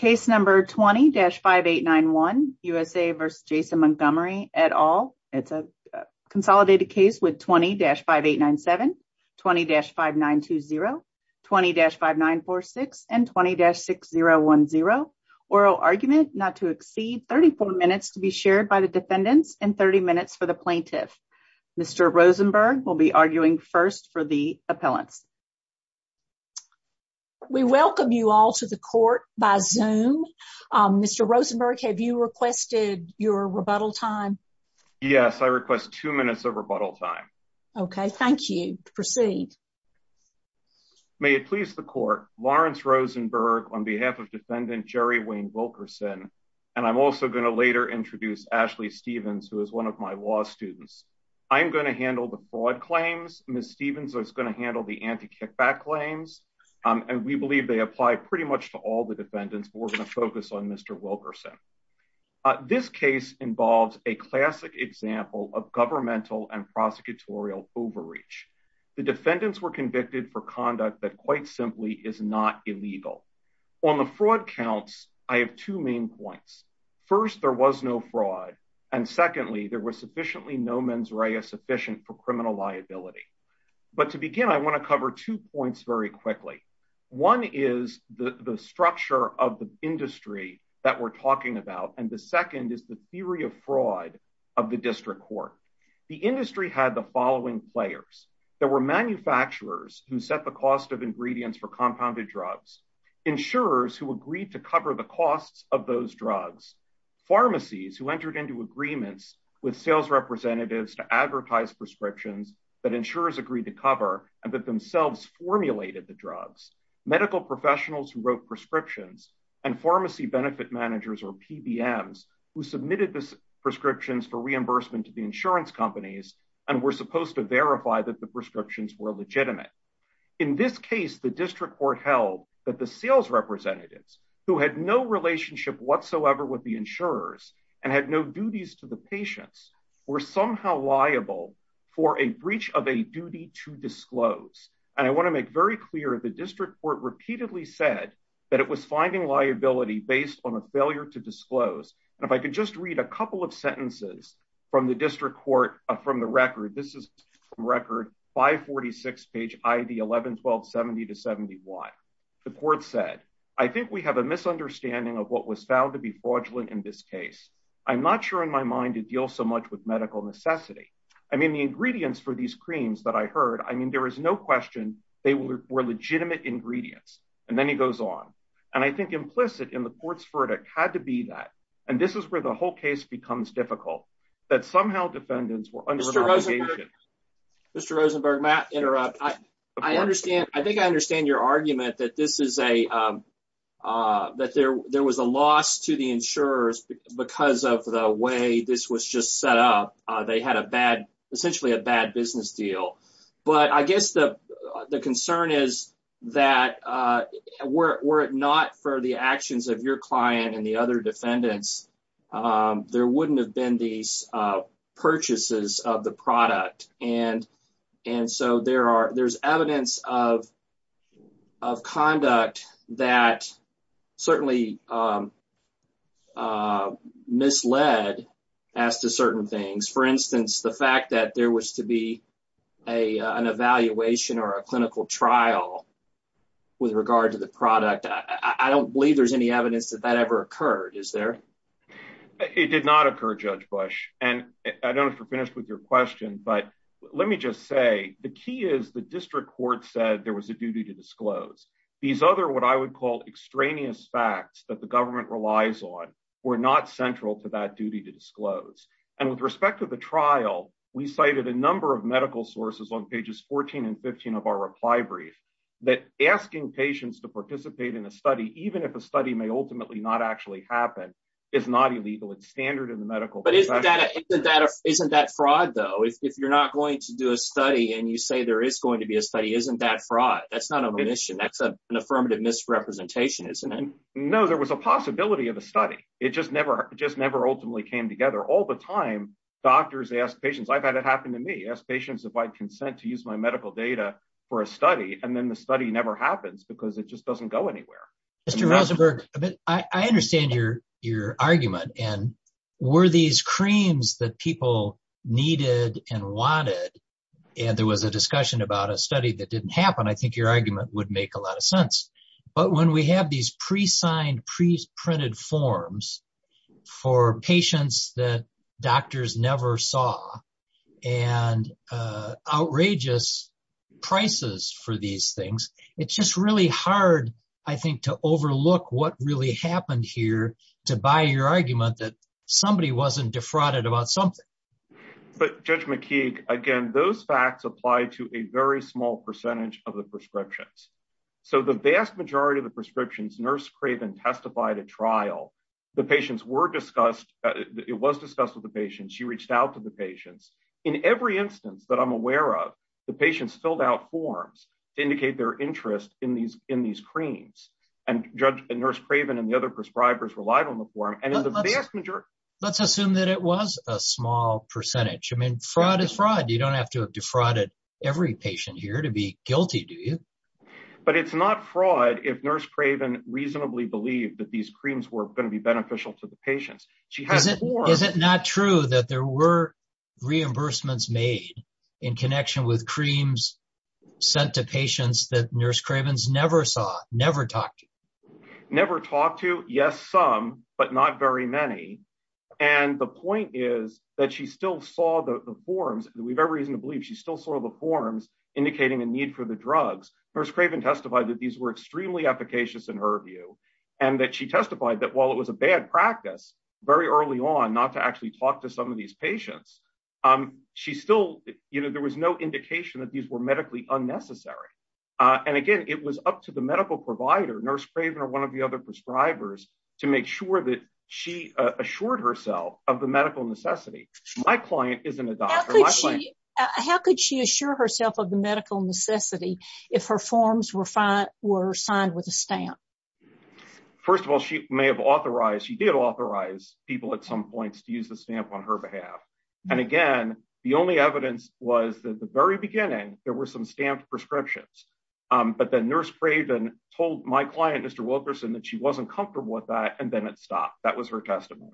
at all. It's a consolidated case with 20-5897, 20-5920, 20-5946, and 20-6010. Oral argument not to exceed 34 minutes to be shared by the defendants and 30 minutes for the plaintiffs. Mr. Rosenberg will be arguing first for the appellant. We welcome you all to the court by Zoom. Mr. Rosenberg, have you requested your rebuttal time? Yes, I request two minutes of rebuttal time. Okay, thank you. Proceed. May it please the court, Lawrence Rosenberg on behalf of defendant Jerry Wayne Wilkerson, and I'm also going to later introduce Ashley Stephens, who is one of my law students. I'm going to handle the fraud claims. Ms. Stephens is going to handle the anti-kickback claims, and we believe they apply pretty much to all the defendants. We're going to focus on Mr. Wilkerson. This case involves a classic example of governmental and prosecutorial overreach. The defendants were convicted for conduct that quite simply is not illegal. On the fraud counts, I have two main points. First, there was no fraud, and secondly, there was sufficiently no mens rea sufficient for criminal liability. But to begin, I want to cover two points very quickly. One is the structure of the industry that we're talking about, and the second is the theory of fraud of the district court. The industry had the following players. There were manufacturers who set the cost of ingredients for compounded drugs, insurers who agreed to cover the costs of those drugs, pharmacies who entered into agreements with sales representatives to advertise prescriptions that insurers agreed to cover and that themselves formulated the drugs, medical professionals who wrote prescriptions, and pharmacy benefit managers or PBMs who submitted the prescriptions for reimbursement to the insurance companies and were supposed to verify that the prescriptions were legitimate. In this case, the district court held that the sales representatives, who had no relationship whatsoever with the insurers and had no duties to the patients, were somehow liable for a breach of a duty to disclose. And I want to make very clear, the district court repeatedly said that it was finding liability based on a failure to disclose. And if I could just read a couple of sentences from the district court, from the record, this is from record 546, page ID 11-12-70-71. The court said, I think we have a misunderstanding of what was found to be fraudulent in this case. I'm not sure in my mind it deals so much with medical necessity. I mean, the ingredients for these creams that I heard, I mean, there is no question they were legitimate ingredients. And then he goes on. Mr. Rosenberg, may I interrupt? I think I understand your argument that there was a loss to the insurers because of the way this was just set up. They had essentially a bad business deal. But I guess the concern is that were it not for the actions of your client and the other defendants, there wouldn't have been these purchases of the product. And so there's evidence of conduct that certainly misled as to certain things. For instance, the fact that there was to be an evaluation or a clinical trial with regard to the product, I don't believe there's any evidence that that ever occurred, is there? It did not occur, Judge Bush. And I don't know if you're finished with your question, but let me just say the key is the district court said there was a duty to disclose. These other what I would call extraneous facts that the government relies on were not central to that duty to disclose. And with respect to the trial, we cited a number of medical sources on pages 14 and 15 of our reply brief that asking patients to participate in a study, even if a study may ultimately not actually happen, is not illegal. It's standard in the medical profession. But isn't that fraud, though? If you're not going to do a study and you say there is going to be a study, isn't that fraud? That's not omission. That's an affirmative misrepresentation, isn't it? No, there was a possibility of a study. It just never ultimately came together. All the time, doctors ask patients, I've had it happen to me, ask patients if I'd consent to use my medical data for a study, and then the study never happens because it just doesn't go anywhere. Mr. Rosenberg, I understand your argument. And were these creams that people needed and wanted, and there was a discussion about a study that didn't happen, I think your argument would make a lot of sense. But when we have these pre-signed, pre-printed forms for patients that doctors never saw, and outrageous prices for these things, it's just really hard, I think, to overlook what really happened here to buy your argument that somebody wasn't defrauded about something. But Judge McKeague, again, those facts apply to a very small percentage of the prescriptions. So the vast majority of the prescriptions, Nurse Craven testified at trial, the patients were discussed, it was discussed with the patients, she reached out to the patients. In every instance that I'm aware of, the patients filled out forms to indicate their interest in these creams, and Nurse Craven and the other prescribers relied on the form, and in the vast majority... Let's assume that it was a small percentage. I mean, fraud is fraud. You don't have to have defrauded every patient here to be guilty, do you? But it's not fraud if Nurse Craven reasonably believed that these creams were going to be beneficial to the patients. Is it not true that there were reimbursements made in connection with creams sent to patients that Nurse Craven never saw, never talked to? Never talked to, yes, some, but not very many. And the point is that she still saw the forms, and we have every reason to believe she still saw the forms indicating a need for the drugs. Nurse Craven testified that these were extremely efficacious in her view, and that she testified that while it was a bad practice very early on not to actually talk to some of these patients, she still, you know, there was no indication that these were medically unnecessary. And again, it was up to the medical provider, Nurse Craven or one of the other prescribers, to make sure that she assured herself of the medical necessity. My client isn't a doctor. How could she assure herself of the medical necessity if her forms were signed with a stamp? First of all, she may have authorized, she did authorize people at some point to use the stamp on her behalf. And again, the only evidence was that at the very beginning, there were some stamped prescriptions. But then Nurse Craven told my client, Mr. Wilkerson, that she wasn't comfortable with that, and then it stopped. That was her testimony.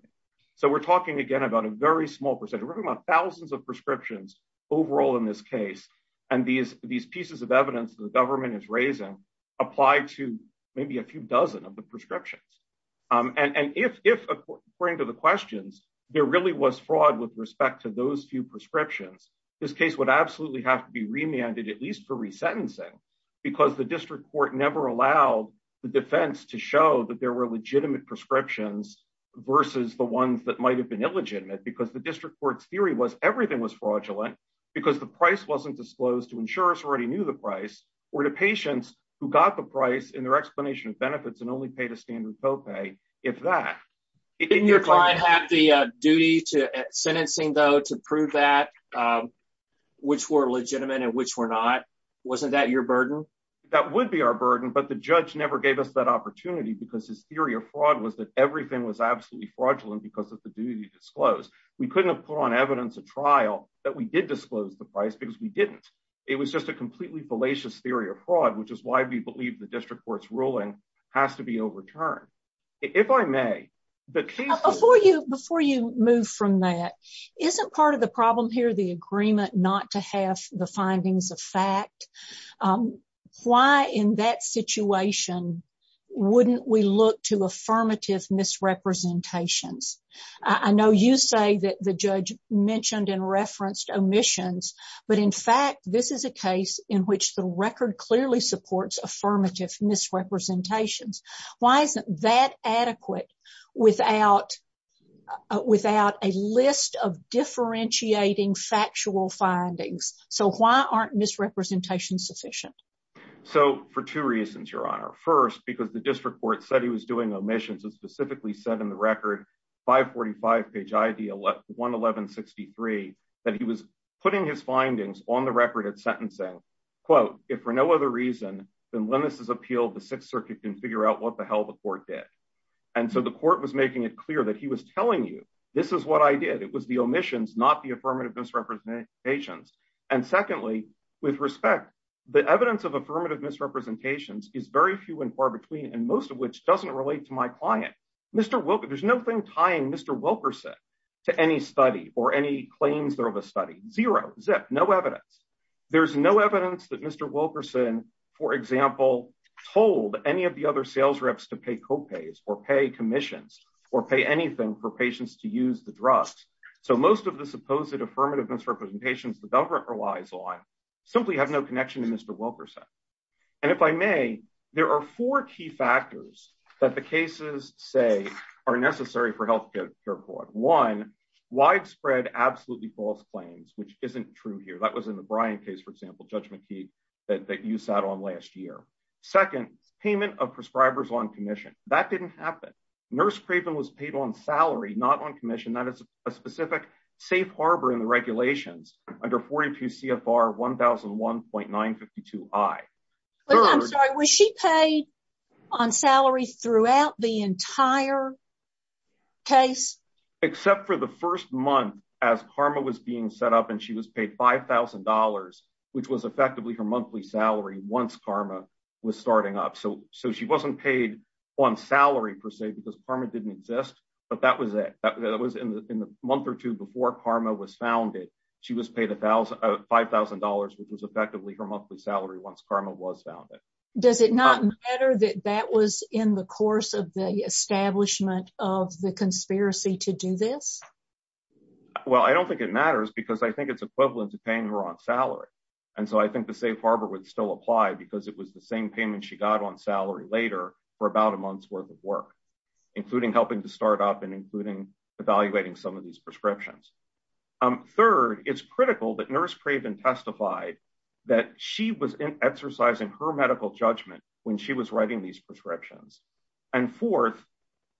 So we're talking again about a very small percentage. We're talking about thousands of prescriptions overall in this case. And these pieces of evidence the government is raising apply to maybe a few dozen of the prescriptions. And if, according to the questions, there really was fraud with respect to those few prescriptions, this case would absolutely have to be remanded, at least for resentencing. Because the district court never allowed the defense to show that there were legitimate prescriptions versus the ones that might have been illegitimate. Because the district court's theory was everything was fraudulent because the price wasn't disclosed to insurers who already knew the price, or to patients who got the price in their explanation of benefits and only paid a standard co-pay, if that. Didn't your client have the duty to sentencing, though, to prove that, which were legitimate and which were not? Wasn't that your burden? That would be our burden, but the judge never gave us that opportunity because his theory of fraud was that everything was absolutely fraudulent because of the duty to disclose. We couldn't have put on evidence at trial that we did disclose the price because we didn't. It was just a completely fallacious theory of fraud, which is why we believe the district court's ruling has to be overturned. Before you move from that, isn't part of the problem here the agreement not to have the findings of fact? Why in that situation wouldn't we look to affirmative misrepresentations? I know you say that the judge mentioned and referenced omissions, but in fact, this is a case in which the record clearly supports affirmative misrepresentations. Why isn't that adequate without a list of differentiating factual findings? So why aren't misrepresentations sufficient? So, for two reasons, Your Honor. First, because the district court said he was doing omissions. It specifically said in the record, 545 page IV 11163, that he was putting his findings on the record of sentencing. So, quote, if for no other reason than Lennice's appeal, the Sixth Circuit can figure out what the hell the court did. And so the court was making it clear that he was telling you, this is what I did. It was the omissions, not the affirmative misrepresentations. And secondly, with respect, the evidence of affirmative misrepresentations is very few and far between, and most of which doesn't relate to my client. Mr. Wilkerson, there's no thing tying Mr. Wilkerson to any study or any claims of a study. Zero. Zip. No evidence. There's no evidence that Mr. Wilkerson, for example, told any of the other sales reps to pay co-pays or pay commissions or pay anything for patients to use the dress. So most of the supposed affirmative misrepresentations the government relies on simply have no connection to Mr. Wilkerson. And if I may, there are four key factors that the cases say are necessary for health care for one widespread, absolutely false claims, which isn't true here. That was in the Brian case, for example, judgment that you sat on last year. Second, payment of prescribers on commission that didn't happen. Nurse Craven was paid on salary, not on commission, not as a specific safe harbor in the regulations under 42 CFR 1001.952I. I'm sorry, was she paid on salary throughout the entire case? Except for the first month as karma was being set up and she was paid five thousand dollars, which was effectively her monthly salary once karma was starting up. So so she wasn't paid on salary, per se, because karma didn't exist. But that was it. That was in the month or two before karma was founded. She was paid a thousand five thousand dollars, which was effectively her monthly salary. Does it not matter that that was in the course of the establishment of the conspiracy to do this? Well, I don't think it matters because I think it's equivalent to paying her on salary. And so I think the safe harbor would still apply because it was the same payment she got on salary later for about a month's worth of work, including helping to start up and including evaluating some of these prescriptions. Third, it's critical that nurse Craven testified that she was exercising her medical judgment when she was writing these prescriptions. And fourth,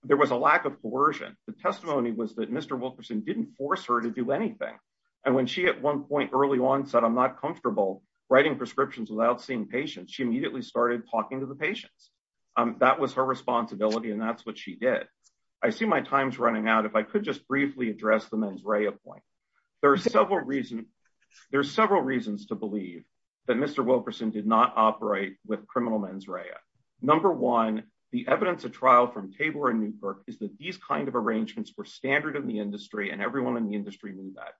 there was a lack of coercion. The testimony was that Mr. Wilkerson didn't force her to do anything. And when she at one point early on said, I'm not comfortable writing prescriptions without seeing patients, she immediately started talking to the patients. That was her responsibility, and that's what she did. I see my time's running out. If I could just briefly address the mens rea point. There are several reasons. There are several reasons to believe that Mr. Wilkerson did not operate with criminal mens rea. Number one, the evidence of trial from Tabor and Newkirk is that these kind of arrangements were standard in the industry and everyone in the industry knew that.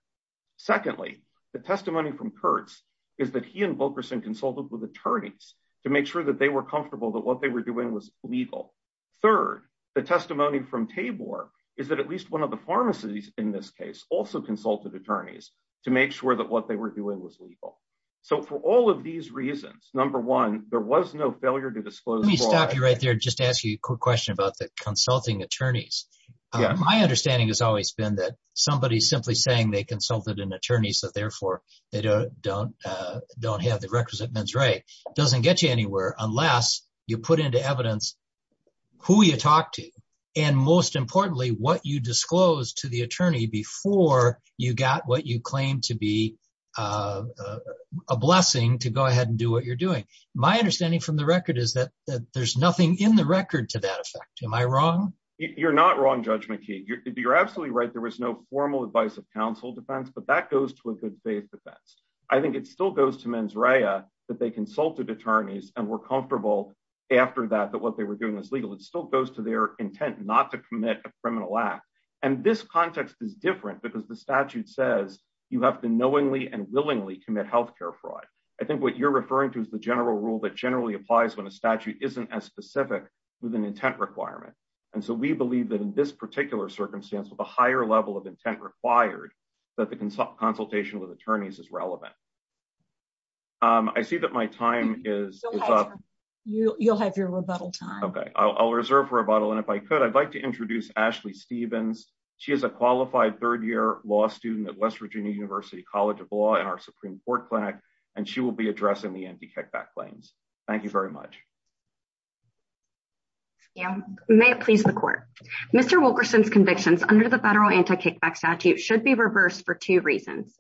Secondly, the testimony from Kurtz is that he and Wilkerson consulted with attorneys to make sure that they were comfortable that what they were doing was legal. Third, the testimony from Tabor is that at least one of the pharmacies in this case also consulted attorneys to make sure that what they were doing was legal. So for all of these reasons, number one, there was no failure to disclose. Let me stop you right there and just ask you a quick question about the consulting attorneys. My understanding has always been that somebody simply saying they consulted an attorney so therefore they don't have the requisite mens rea doesn't get you anywhere unless you put into evidence who you talk to. And most importantly, what you disclose to the attorney before you got what you claim to be a blessing to go ahead and do what you're doing. My understanding from the record is that there's nothing in the record to that effect. Am I wrong? You're not wrong, Judge McKee. You're absolutely right. There was no formal advice of counsel defense, but that goes to a good faith defense. I think it still goes to mens rea that they consulted attorneys and were comfortable after that, that what they were doing was legal. It still goes to their intent not to commit a criminal act. And this context is different because the statute says you have to knowingly and willingly commit health care fraud. I think what you're referring to is the general rule that generally applies when a statute isn't as specific with an intent requirement. And so we believe that in this particular circumstance with a higher level of intent required that the consultation with attorneys is relevant. I see that my time is up. You'll have your rebuttal time. OK, I'll reserve for rebuttal. And if I could, I'd like to introduce Ashley Stevens. She is a qualified third year law student at West Virginia University College of Law and our Supreme Court clinic. And she will be addressing the anti-kickback claims. Thank you very much. May it please the court. Mr. Wilkerson's convictions under the federal anti-kickback statute should be reversed for two reasons.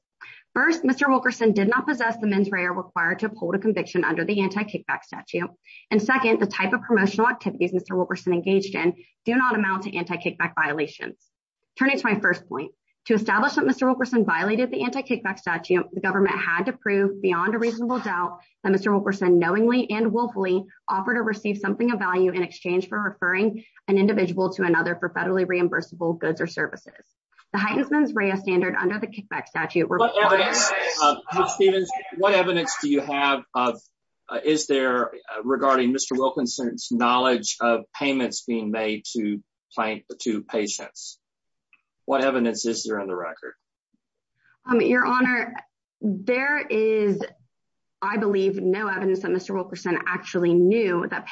First, Mr. Wilkerson did not possess the mens rea required to uphold a conviction under the anti-kickback statute. And second, the type of promotional activities Mr. Wilkerson engaged in do not amount to anti-kickback violations. Turning to my first point to establish that Mr. Wilkerson violated the anti-kickback statute, the government had to prove beyond a reasonable doubt that Mr. Wilkerson knowingly and willfully offered to receive something of value in exchange for referring an individual to another for federally reimbursable goods or services. The heightened mens rea standard under the kickback statute. What evidence do you have? Is there regarding Mr. Wilkerson's knowledge of payments being made to patients? What evidence is there on the record? Your Honor, there is, I believe, no evidence that Mr. Wilkerson actually knew that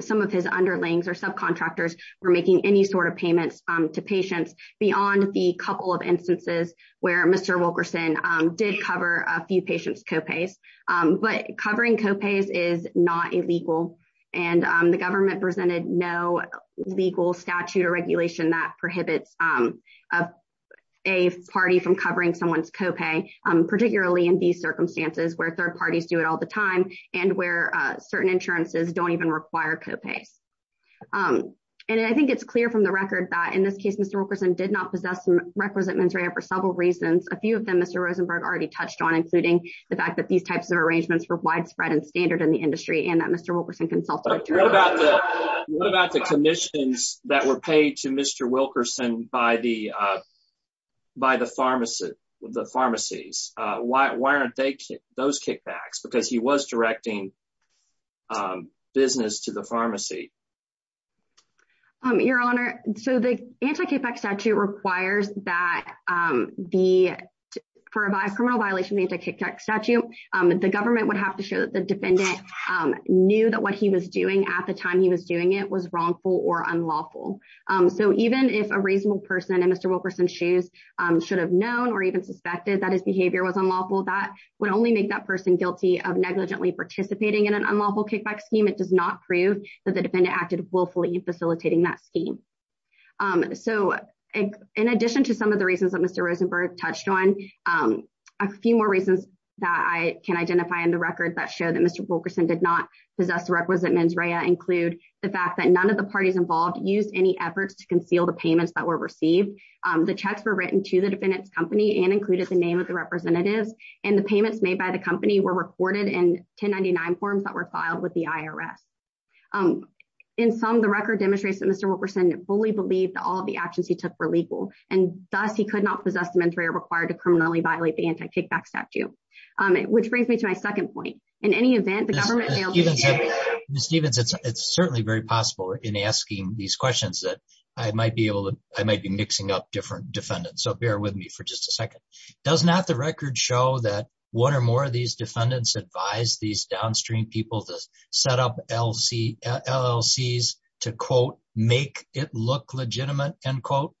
some of his underlings or subcontractors were making any sort of payments to patients beyond the couple of instances where Mr. Wilkerson did cover a few patients' co-pays. But covering co-pays is not illegal, and the government presented no legal statute or regulation that prohibits a party from covering someone's co-pay, particularly in these circumstances where third parties do it all the time and where certain insurances don't even require co-pay. And I think it's clear from the record that, in this case, Mr. Wilkerson did not possess records of mens rea for several reasons. A few of them Mr. Rosenberg already touched on, including the fact that these types of arrangements were widespread and standard in the industry and that Mr. Wilkerson consulted. What about the commissions that were paid to Mr. Wilkerson by the pharmacies? Why aren't those kickbacks? Because he was directing business to the pharmacy. Your Honor, so the anti-kickback statute requires that for a criminal violation of the anti-kickback statute, the government would have to show that the defendant knew that what he was doing at the time he was doing it was wrongful or unlawful. So even if a reasonable person in Mr. Wilkerson's shoes should have known or even suspected that his behavior was unlawful, that would only make that person guilty of negligently participating in an unlawful kickback scheme. It does not prove that the defendant acted willfully in facilitating that scheme. So in addition to some of the reasons that Mr. Rosenberg touched on, a few more reasons that I can identify in the record that show that Mr. Wilkerson did not possess records of mens rea include the fact that none of the parties involved used any effort to conceal the payments that were received. The checks were written to the defendant's company and included the name of the representative, and the payments made by the company were recorded in 1099 forms that were filed with the IRS. In sum, the record demonstrates that Mr. Wilkerson fully believes that all of the actions he took were legal, and thus he could not possess a mens rea required to criminally violate the anti-kickback statute. Which brings me to my second point. In any event, the government... Ms. Stephens, it's certainly very possible in asking these questions that I might be mixing up different defendants, so bear with me for just a second. Does not the record show that one or more of these defendants advised these downstream people to set up LLCs to, quote, make it look legitimate, end quote?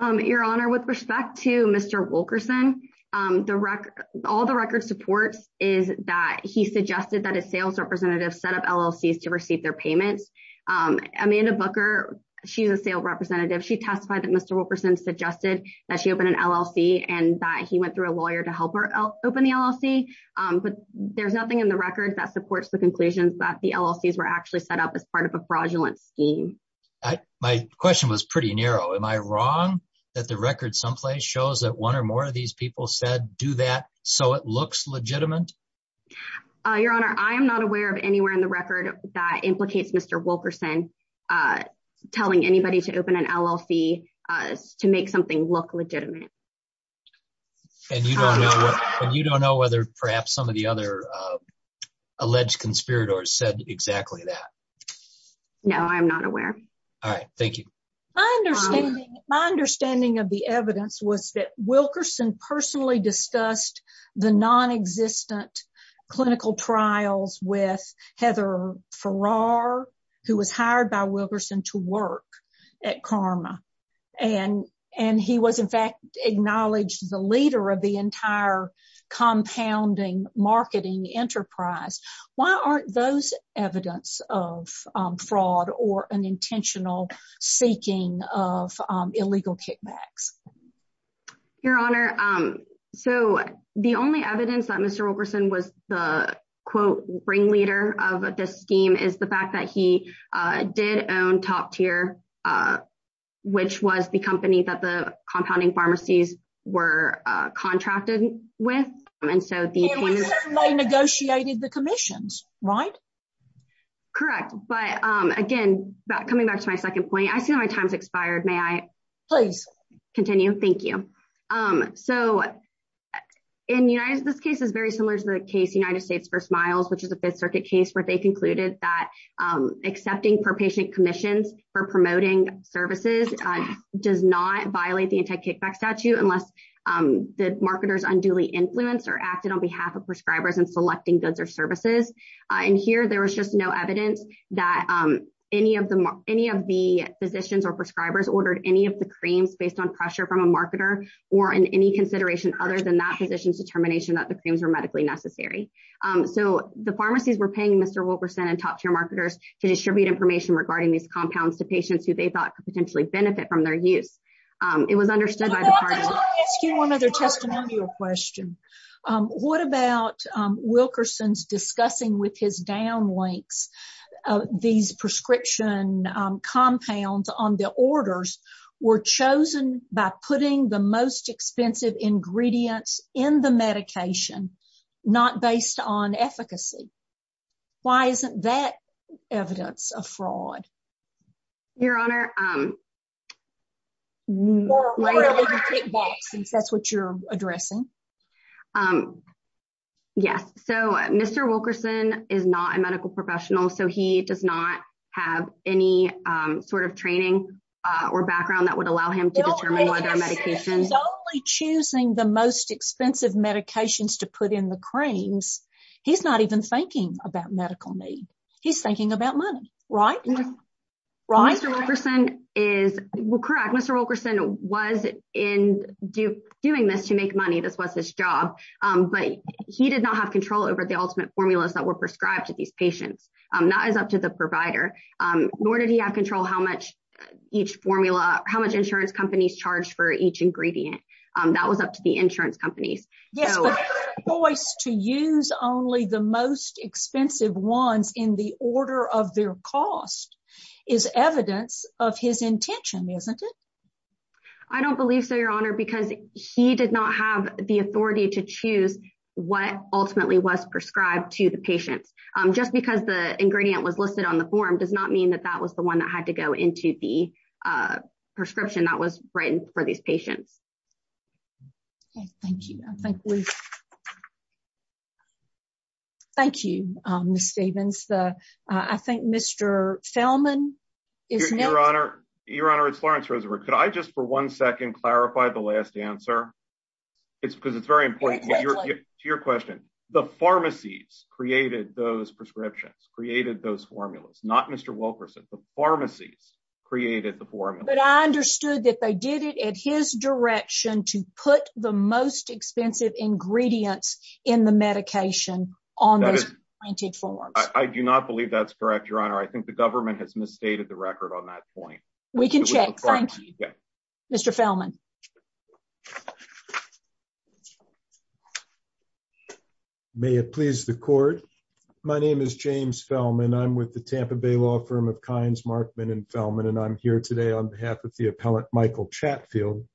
Your Honor, with respect to Mr. Wilkerson, all the record supports is that he suggested that a sales representative set up LLCs to receive their payments. Amanda Booker, she's a sales representative. She testified that Mr. Wilkerson suggested that she open an LLC and that he went through a lawyer to help her open the LLC. But there's nothing in the record that supports the conclusion that the LLCs were actually set up as part of a fraudulent scheme. My question was pretty narrow. Am I wrong that the record someplace shows that one or more of these people said, do that so it looks legitimate? Your Honor, I am not aware of anywhere in the record that implicates Mr. Wilkerson telling anybody to open an LLC to make something look legitimate. And you don't know whether perhaps some of the other alleged conspirators said exactly that? No, I'm not aware. All right. Thank you. My understanding of the evidence was that Wilkerson personally discussed the nonexistent clinical trials with Heather Farrar, who was hired by Wilkerson to work at Karma. And and he was, in fact, acknowledged the leader of the entire compounding marketing enterprise. Why aren't those evidence of fraud or an intentional seeking of illegal kickbacks? Your Honor, so the only evidence that Mr. Wilkerson was the, quote, brain leader of this scheme is the fact that he did own top tier, which was the company that the compounding pharmacies were contracted with. And so they negotiated the commissions, right? Correct. But again, coming back to my second point, I feel my time's expired. May I please continue? Thank you. So in this case is very similar to the case, the United States for Smiles, which is a Fifth Circuit case where they concluded that accepting per patient commission for promoting services does not violate the anti-kickback statute unless the marketers unduly influence or acted on behalf of prescribers and selecting goods or services. And here there was just no evidence that any of them, any of the physicians or prescribers ordered any of the creams based on pressure from a marketer or in any consideration other than that physician's determination that the things are medically necessary. So the pharmacies were paying Mr. Wilkerson and top tier marketers to distribute information regarding these compounds to patients who they thought could potentially benefit from their use. It was understood by the party. I have one other testimonial question. What about Wilkerson's discussing with his down links? These prescription compounds on the orders were chosen by putting the most expensive ingredients in the medication, not based on efficacy. Why isn't that evidence of fraud? Your Honor, that's what you're addressing. Yes. So Mr. Wilkerson is not a medical professional, so he does not have any sort of training or background that would allow him. He's only choosing the most expensive medications to put in the creams. He's not even thinking about medical need. He's thinking about money. Right. Right. Mr. Wilkerson is correct. Mr. Wilkerson was in doing this to make money. This was his job. But he did not have control over the ultimate formulas that were prescribed to these patients. Not as up to the provider. Nor did he have control how much each formula, how much insurance companies charged for each ingredient. That was up to the insurance companies. The choice to use only the most expensive ones in the order of their cost is evidence of his intention, isn't it? I don't believe so, Your Honor, because he did not have the authority to choose what ultimately was prescribed to the patient. Just because the ingredient was listed on the form does not mean that that was the one that had to go into the prescription that was written for these patients. Thank you. Thank you, Ms. Stephens. I think Mr. Thelman is next. Your Honor, it's Lawrence Rosenberg. Could I just for one second clarify the last answer? Because it's very important to your question. The pharmacies created those prescriptions, created those formulas. Not Mr. Wilkerson. The pharmacies created the formula. But I understood that they did it in his direction to put the most expensive ingredients in the medication on the printed form. I do not believe that's correct, Your Honor. I think the government has misstated the record on that point. We can check. Thank you. Mr. Thelman. May it please the court. My name is James Thelman. I'm with the Tampa Bay Law Firm of Kinds Markman and Thelman, and I'm here today on behalf of the appellant Michael Chatfield.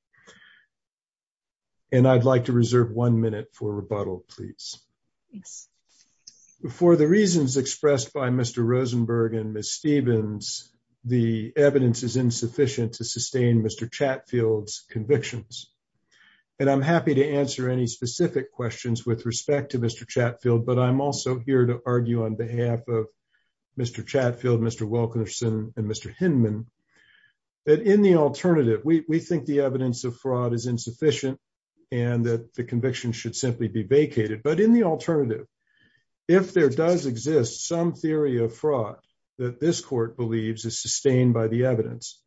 And I'd like to reserve one minute for rebuttal, please. For the reasons expressed by Mr. Rosenberg and Ms. Stevens, the evidence is insufficient to sustain Mr. Chatfield's convictions. And I'm happy to answer any specific questions with respect to Mr. Chatfield. But I'm also here to argue on behalf of Mr. Chatfield, Mr. Wilkerson and Mr. Hinman. In the alternative, we think the evidence of fraud is insufficient and that the conviction should simply be vacated. But in the alternative, if there does exist some theory of fraud that this court believes is sustained by the evidence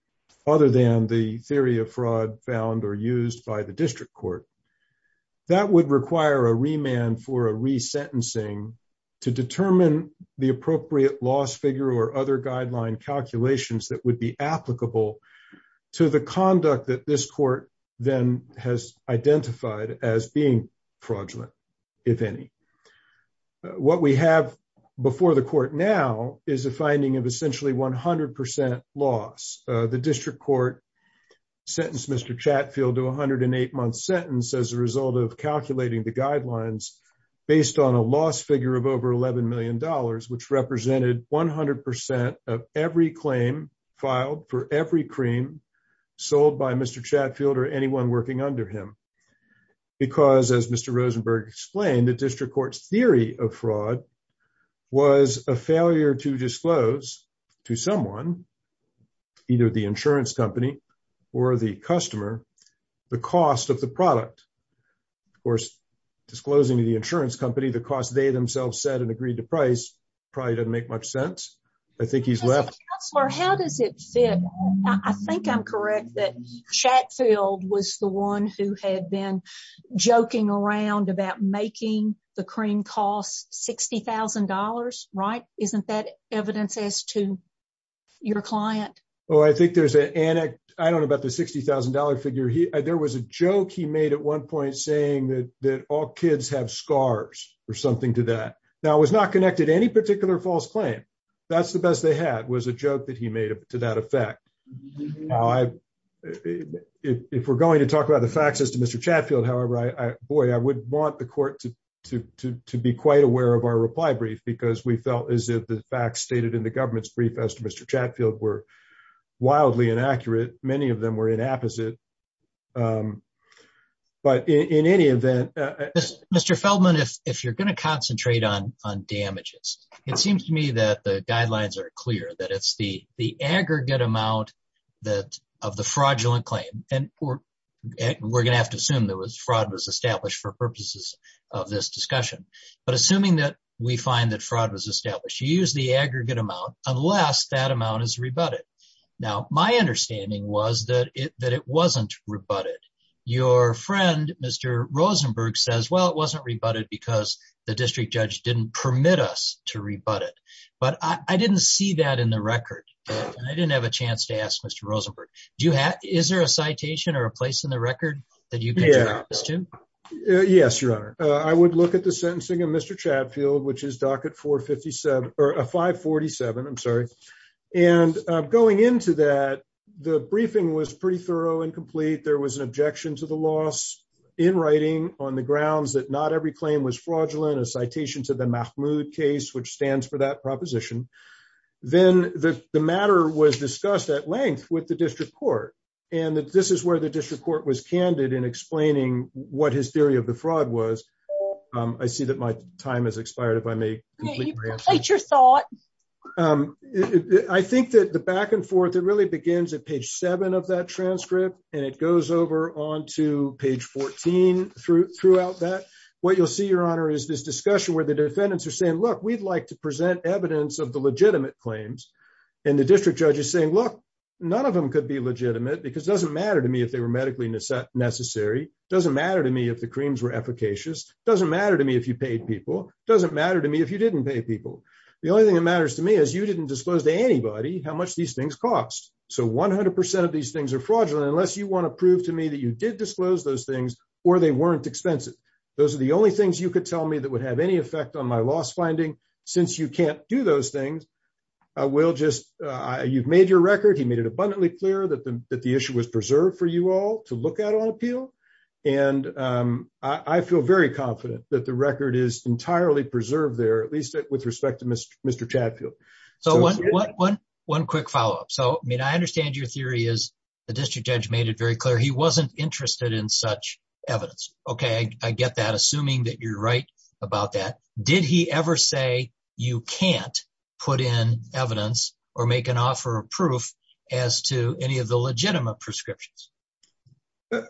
other than the theory of fraud found or used by the district court, that would require a remand for a resentencing to determine the appropriate loss figure or other guideline calculations that would be applicable to the conduct that this court then has identified as being fraudulent, if any. What we have before the court now is a finding of essentially 100 percent loss. The district court sentenced Mr. Chatfield to a 108-month sentence as a result of calculating the guidelines based on a loss figure of over $11 million, which represented 100 percent of every claim filed for every cream sold by Mr. Chatfield or anyone working under him. Because, as Mr. Rosenberg explained, the district court's theory of fraud was a failure to disclose to someone, either the insurance company or the customer, the cost of the product. Of course, disclosing to the insurance company the cost they themselves said and agreed to price probably doesn't make much sense. I think he's left. How does it fit? I think I'm correct that Chatfield was the one who had been joking around about making the cream cost $60,000, right? Isn't that evidence as to your client? Oh, I think there's an anecdote about the $60,000 figure. There was a joke he made at one point saying that all kids have scars or something to that. Now, it was not connected to any particular false claim. That's the best they had was a joke that he made to that effect. Now, if we're going to talk about the facts as to Mr. Chatfield, however, boy, I would want the court to be quite aware of our reply brief, because we felt as if the facts stated in the government's brief as to Mr. Chatfield were wildly inaccurate. Many of them were inapposite. But in any event... Mr. Feldman, if you're going to concentrate on damages, it seems to me that the guidelines are clear, that it's the aggregate amount of the fraudulent claim. And we're going to have to assume that fraud was established for purposes of this discussion. But assuming that we find that fraud was established, you use the aggregate amount unless that amount is rebutted. Now, my understanding was that it wasn't rebutted. Your friend, Mr. Rosenberg, says, well, it wasn't rebutted because the district judge didn't permit us to rebut it. But I didn't see that in the record. And I didn't have a chance to ask Mr. Rosenberg. Is there a citation or a place in the record that you can add this to? Yes, Your Honor. I would look at the sentencing of Mr. Chatfield, which is docket 547. And going into that, the briefing was pretty thorough and complete. There was an objection to the loss in writing on the grounds that not every claim was fraudulent, a citation to the Mahmoud case, which stands for that proposition. Then the matter was discussed at length with the district court. And this is where the district court was candid in explaining what his theory of the fraud was. I see that my time has expired, if I may. State your thought. I think that the back and forth, it really begins at page seven of that transcript. And it goes over on to page 14 through throughout that. What you'll see, Your Honor, is this discussion where the defendants are saying, look, we'd like to present evidence of the legitimate claims. And the district judge is saying, look, none of them could be legitimate because it doesn't matter to me if they were medically necessary. It doesn't matter to me if the claims were efficacious. It doesn't matter to me if you paid people. It doesn't matter to me if you didn't pay people. The only thing that matters to me is you didn't disclose to anybody how much these things cost. So 100 percent of these things are fraudulent unless you want to prove to me that you did disclose those things or they weren't expensive. Those are the only things you could tell me that would have any effect on my loss finding. Since you can't do those things, I will just you've made your record. You made it abundantly clear that the issue was preserved for you all to look at on appeal. And I feel very confident that the record is entirely preserved there, at least with respect to Mr. Chatfield. So one quick follow up. So I mean, I understand your theory is the district judge made it very clear he wasn't interested in such evidence. OK, I get that. Assuming that you're right about that. Did he ever say you can't put in evidence or make an offer of proof as to any of the legitimate prescriptions?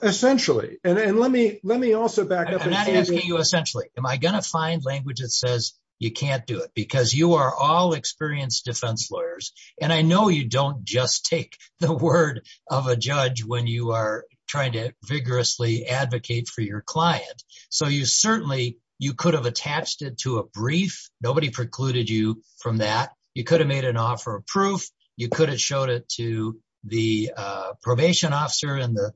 Essentially. And then let me let me also back up. You essentially am I going to find language that says you can't do it because you are all experienced defense lawyers. And I know you don't just take the word of a judge when you are trying to vigorously advocate for your client. So you certainly you could have attached it to a brief. Nobody precluded you from that. You could have made an offer of proof. You could have showed it to the probation officer and the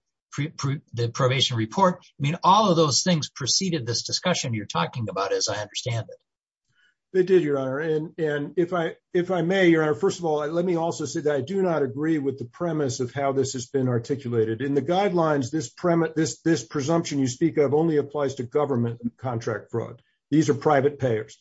probation report. I mean, all of those things preceded this discussion you're talking about, as I understand it. They did, Your Honor. And if I if I may, Your Honor, first of all, let me also say that I do not agree with the premise of how this has been articulated in the guidelines. This premise, this this presumption you speak of only applies to government contract fraud. These are private payers.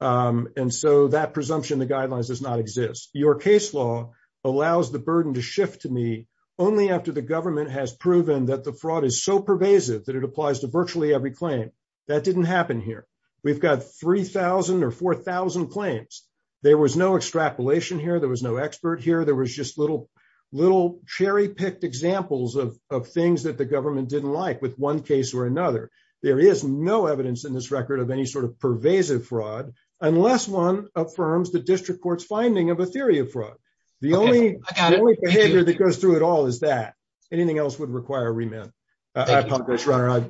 And so that presumption, the guidelines does not exist. Your case law allows the burden to shift to me only after the government has proven that the fraud is so pervasive that it applies to virtually every claim. That didn't happen here. We've got 3000 or 4000 claims. There was no extrapolation here. There was no expert here. There was just little little cherry picked examples of things that the government didn't like with one case or another. There is no evidence in this record of any sort of pervasive fraud unless one affirms the district court's finding of a theory of fraud. The only thing that goes through it all is that anything else would require a remit of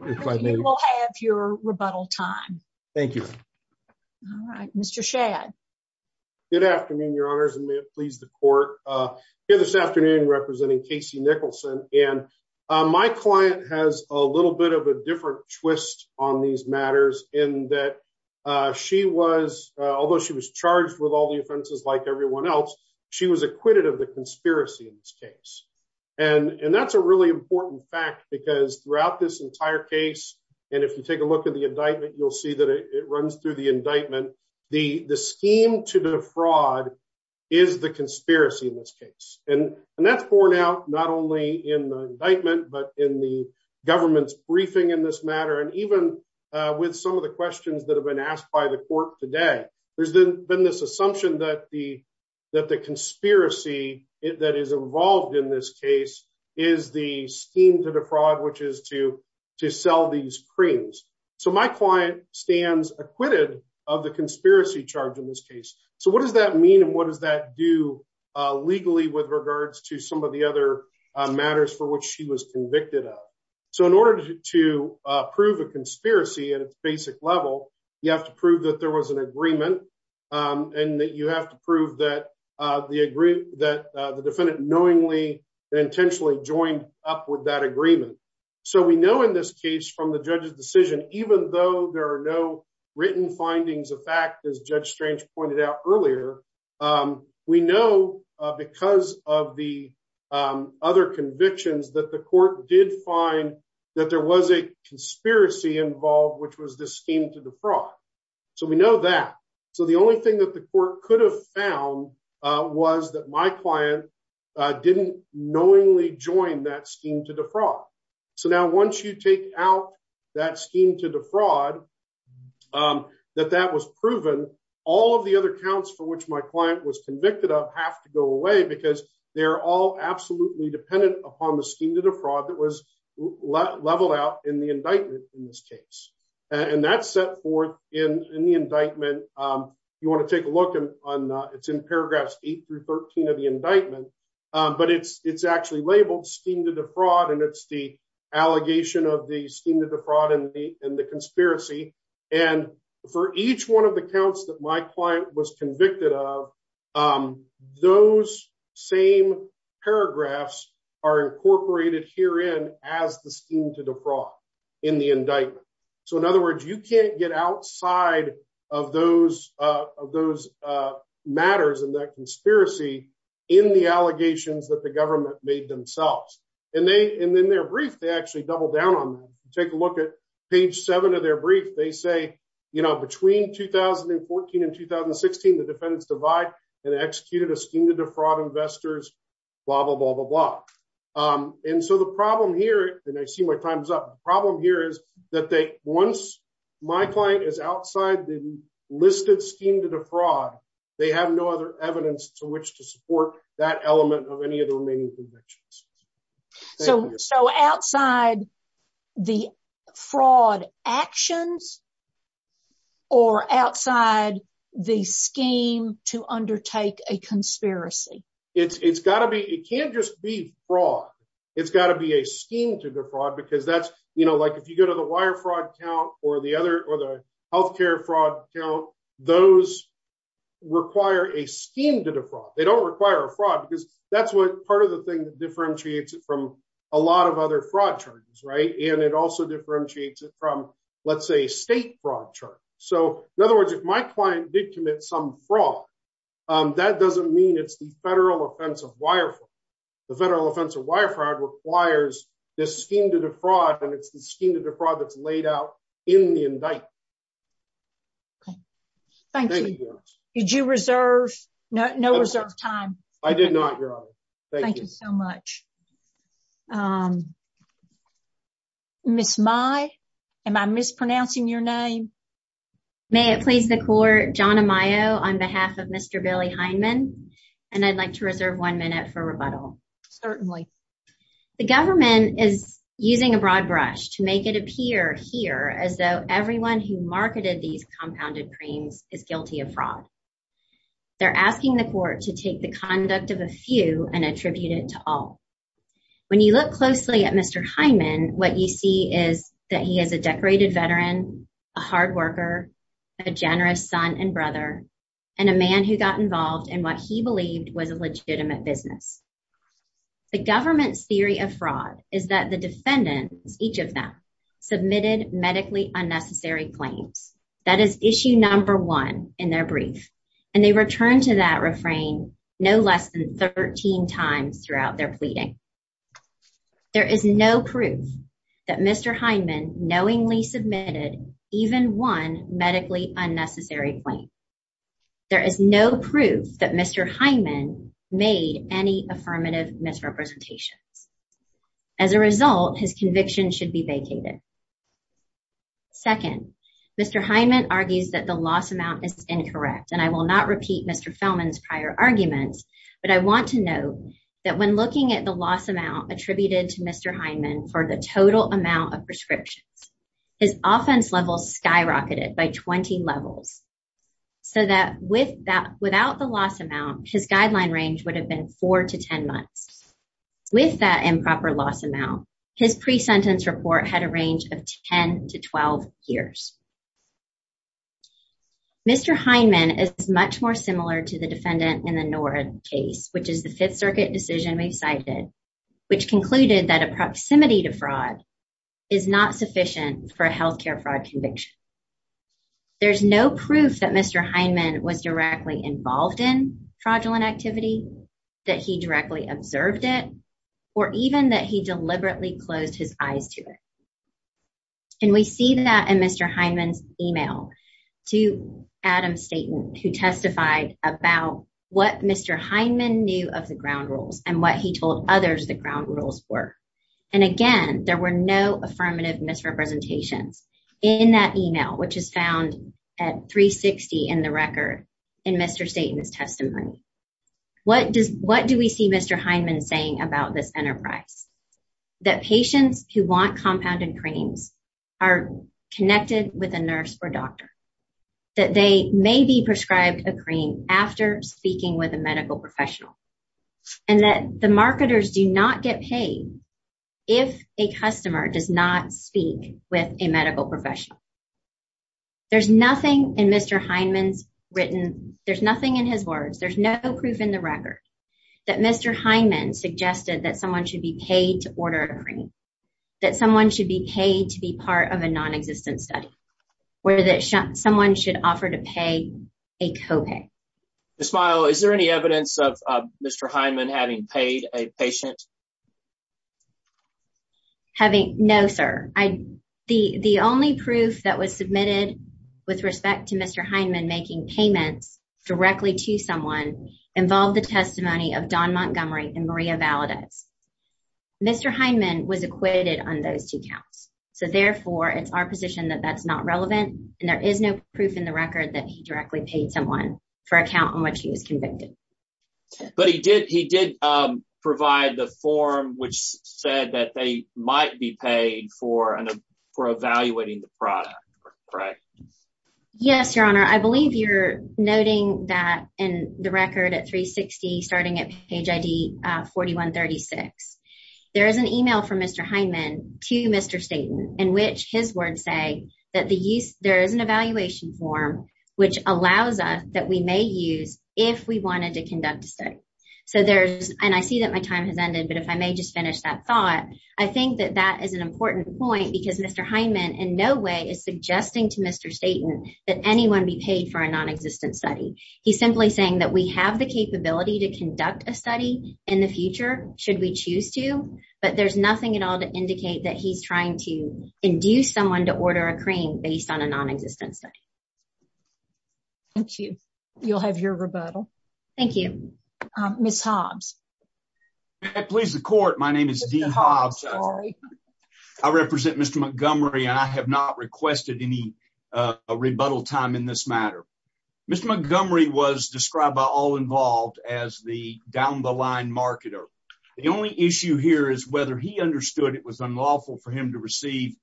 your rebuttal time. Thank you, Mr. Shad. Good afternoon, Your Honor. Pleased to court this afternoon representing Casey Nicholson. And my client has a little bit of a different twist on these matters in that she was although she was charged with all the offenses, like everyone else. She was acquitted of the conspiracy in this case. And that's a really important fact, because throughout this entire case, and if you take a look at the indictment, you'll see that it runs through the indictment. The scheme to the fraud is the conspiracy in this case. And that's borne out not only in the indictment, but in the government's briefing in this matter. And even with some of the questions that have been asked by the court today, there's been this assumption that the that the conspiracy that is involved in this case is the scheme to the fraud, which is to to sell these creams. So my client stands acquitted of the conspiracy charge in this case. So what does that mean? And what does that do legally with regards to some of the other matters for which she was convicted of? So in order to prove a conspiracy at a basic level, you have to prove that there was an agreement and that you have to prove that the agree that the defendant knowingly intentionally joined up with that agreement. So we know in this case from the judge's decision, even though there are no written findings of fact, as Judge Strange pointed out earlier, we know because of the other convictions that the court did find that there was a conspiracy involved, which was the scheme to the fraud. So we know that. So the only thing that the court could have found was that my client didn't knowingly join that scheme to the fraud. So now once you take out that scheme to the fraud, that that was proven, all of the other counts for which my client was convicted of have to go away because they're all absolutely dependent upon the scheme to the fraud that was leveled out in the indictment in this case. And that's set forth in the indictment. You want to take a look on that. It's in paragraphs eight through 13 of the indictment, but it's actually labeled scheme to the fraud. And it's the allegation of the scheme to the fraud and the conspiracy. And for each one of the counts that my client was convicted of, those same paragraphs are incorporated herein as the scheme to the fraud in the indictment. So in other words, you can't get outside of those matters and that conspiracy in the allegations that the government made themselves. And then their brief, they actually double down on, take a look at page seven of their brief. They say, you know, between 2014 and 2016, the defendant survived and executed a scheme to defraud investors, blah, blah, blah, blah, blah. And so the problem here, and I see my time's up, the problem here is that once my client is outside the listed scheme to defraud, they have no other evidence to which to support that element of any of the remaining convictions. So outside the fraud actions or outside the scheme to undertake a conspiracy? It can't just be fraud. It's got to be a scheme to defraud because that's, you know, like if you go to the wire fraud count or the healthcare fraud count, those require a scheme to defraud. They don't require a fraud because that's what part of the thing that differentiates it from a lot of other fraud charges, right? And it also differentiates it from, let's say, state fraud charges. So, in other words, if my client did commit some fraud, that doesn't mean it's the federal offense of wire fraud. The federal offense of wire fraud requires this scheme to defraud, and it's the scheme to defraud that's laid out in the indictment. Thank you. Did you reserve, no reserve time? I did not, Your Honor. Thank you. Thank you so much. Ms. Mai, am I mispronouncing your name? May it please the court, John Amayo on behalf of Mr. Billy Heineman, and I'd like to reserve one minute for rebuttal. Certainly. The government is using a broad brush to make it appear here as though everyone who marketed these compounded creams is guilty of fraud. They're asking the court to take the conduct of a few and attribute it to all. When you look closely at Mr. Heineman, what you see is that he is a decorated veteran, a hard worker, a generous son and brother, and a man who got involved in what he believed was a legitimate business. The government's theory of fraud is that the defendants, each of them, submitted medically unnecessary claims. That is issue number one in their brief, and they returned to that refrain no less than 13 times throughout their pleading. There is no proof that Mr. Heineman knowingly submitted even one medically unnecessary claim. There is no proof that Mr. Heineman made any affirmative misrepresentation. As a result, his conviction should be vacated. Second, Mr. Heineman argues that the loss amount is incorrect, and I will not repeat Mr. Feldman's prior argument, but I want to note that when looking at the loss amount attributed to Mr. Heineman for the total amount of prescription, his offense level skyrocketed by 20 levels. So that without the loss amount, his guideline range would have been 4 to 10 months. With that improper loss amount, his pre-sentence report had a range of 10 to 12 years. Mr. Heineman is much more similar to the defendant in the Norris case, which is the Fifth Circuit decision we cited, which concluded that a proximity to fraud is not sufficient for a healthcare fraud conviction. There's no proof that Mr. Heineman was directly involved in fraudulent activity, that he directly observed it, or even that he deliberately closed his eyes to it. And we see that in Mr. Heineman's email to Adam Staton, who testified about what Mr. Heineman knew of the ground rules and what he told others the ground rules were. And again, there were no affirmative misrepresentations in that email, which is found at 360 in the record in Mr. Staton's testimony. What do we see Mr. Heineman saying about this enterprise? That patients who want compounded cream are connected with a nurse or doctor. That they may be prescribed a cream after speaking with a medical professional. And that the marketers do not get paid if a customer does not speak with a medical professional. There's nothing in Mr. Heineman's written, there's nothing in his words, there's no proof in the record, that Mr. Heineman suggested that someone should be paid to order a cream. That someone should be paid to be part of a non-existent study. Or that someone should offer to pay a co-pay. Ms. Miles, is there any evidence of Mr. Heineman having paid a patient? No, sir. The only proof that was submitted with respect to Mr. Heineman making payment directly to someone involved the testimony of Don Montgomery and Maria Valadez. Mr. Heineman was acquitted on those two counts. So, therefore, it's our position that that's not relevant. And there is no proof in the record that he directly paid someone for a count on which he was convicted. But he did provide the form which said that they might be paid for evaluating the product. Yes, Your Honor. I believe you're noting that in the record at 360, starting at page ID 4136. There is an email from Mr. Heineman to Mr. Staten in which his words say that there is an evaluation form which allows us that we may use if we wanted to conduct a study. And I see that my time has ended, but if I may just finish that thought. I think that that is an important point because Mr. Heineman in no way is suggesting to Mr. Staten that anyone be paid for a non-existent study. He's simply saying that we have the capability to conduct a study in the future should we choose to. But there's nothing at all to indicate that he's trying to induce someone to order a cream based on a non-existent study. Thank you. You'll have your rebuttal. Thank you. Ms. Hobbs. If that pleases the court, my name is Dean Hobbs. I represent Mr. Montgomery. I have not requested any rebuttal time in this matter. Mr. Montgomery was described by All Involved as the down-the-line marketer. The only issue here is whether he understood it was unlawful for him to receive